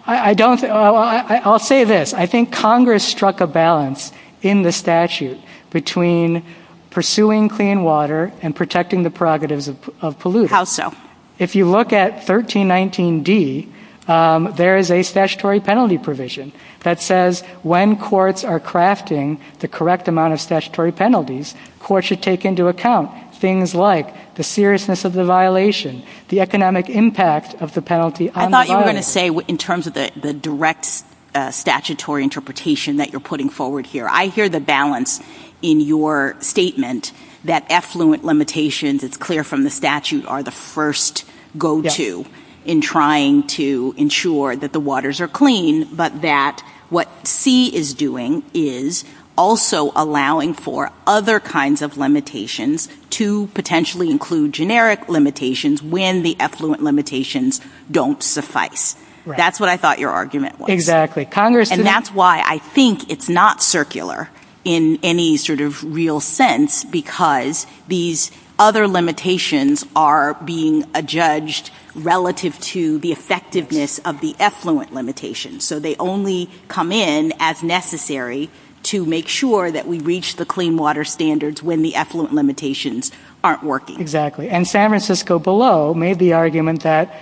I'll say this. I think Congress struck a balance in the statute between pursuing clean water and protecting the prerogatives of polluters. How so? If you look at 1319D, there is a statutory penalty provision that says when courts are crafting the correct amount of statutory penalties, courts should take into account things like the seriousness of the violation, the economic impact of the penalty on the water. I thought you were going to say in terms of the direct statutory interpretation that you're putting forward here. I hear the balance in your statement that effluent limitations, it's clear from the statute, are the first go-to in trying to ensure that the waters are clean, but that what C is doing is also allowing for other kinds of limitations to potentially include generic limitations when the effluent limitations don't suffice. That's what I thought your argument was. And that's why I think it's not circular in any sort of real sense because these other limitations are being adjudged relative to the effectiveness of the effluent limitations. So they only come in as necessary to make sure that we reach the clean water standards when the effluent limitations aren't working. Exactly. And San Francisco below made the argument that,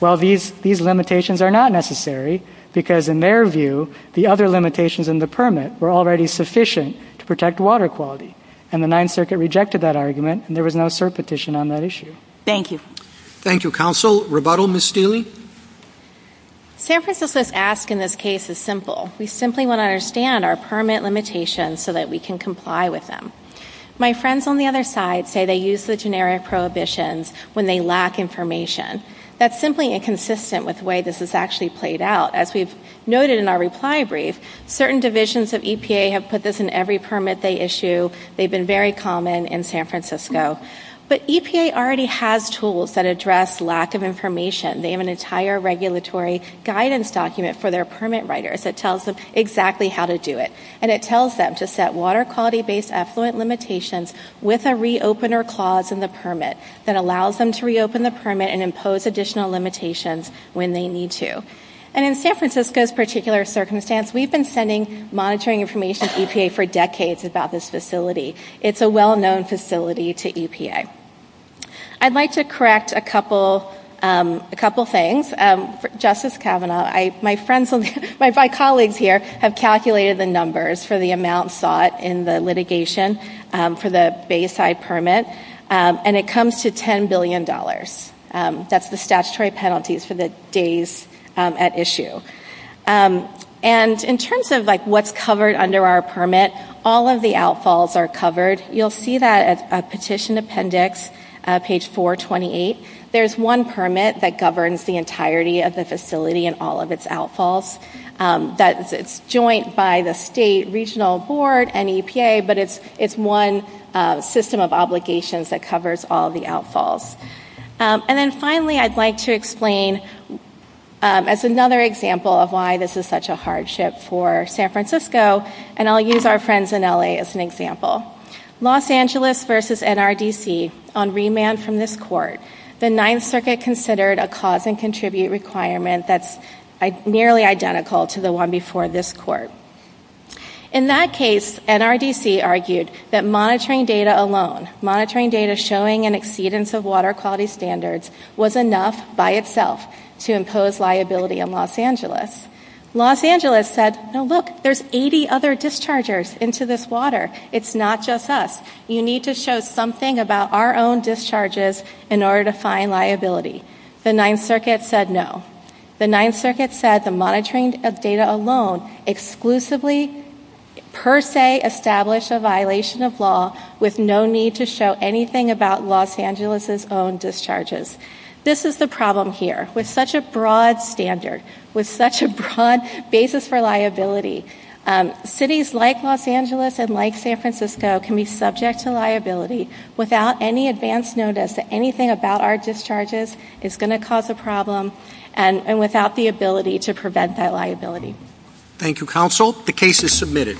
well, these limitations are not necessary because in their view the other limitations in the permit were already sufficient to protect water quality. And the Ninth Circuit rejected that argument, and there was no cert petition on that issue. Thank you. Thank you, Counsel. Rebuttal, Ms. Steele? San Francisco's ask in this case is simple. We simply want to understand our permit limitations so that we can comply with them. My friends on the other side say they use the generic prohibitions when they lack information. That's simply inconsistent with the way this is actually played out. As we've noted in our reply brief, certain divisions of EPA have put this in every permit they issue. They've been very common in San Francisco. But EPA already has tools that address lack of information. They have an entire regulatory guidance document for their permit writers that tells them exactly how to do it. And it tells them to set water quality-based effluent limitations with a re-opener clause in the permit that allows them to reopen the permit and impose additional limitations when they need to. And in San Francisco's particular circumstance, we've been sending monitoring information to EPA for decades about this facility. It's a well-known facility to EPA. I'd like to correct a couple things. Justice Kavanaugh, my colleagues here have calculated the numbers for the amount sought in the litigation for the Bayside permit. And it comes to $10 billion. That's the statutory penalties for the days at issue. And in terms of what's covered under our permit, all of the outfalls are covered. You'll see that at Petition Appendix, page 428. There's one permit that governs the entirety of the facility and all of its outfalls. It's joint by the state regional board and EPA, but it's one system of obligations that covers all of the outfalls. And then finally, I'd like to explain as another example of why this is such a hardship for San Francisco. And I'll use our friends in L.A. as an example. Los Angeles versus NRDC on remand from this court. The Ninth Circuit considered a cause and contribute requirement that's nearly identical to the one before this court. In that case, NRDC argued that monitoring data alone, monitoring data showing an exceedance of water quality standards was enough by itself to impose liability in Los Angeles. Los Angeles said, look, there's 80 other dischargers into this water. It's not just us. You need to show something about our own discharges in order to find liability. The Ninth Circuit said no. The Ninth Circuit said the monitoring of data alone exclusively per se established a violation of law with no need to show anything about Los Angeles' own discharges. This is the problem here. With such a broad standard, with such a broad basis for liability, cities like Los Angeles and like San Francisco can be subject to liability without any advance notice that anything about our discharges is going to cause a problem and without the ability to prevent that liability. Thank you, Counsel. The case is submitted.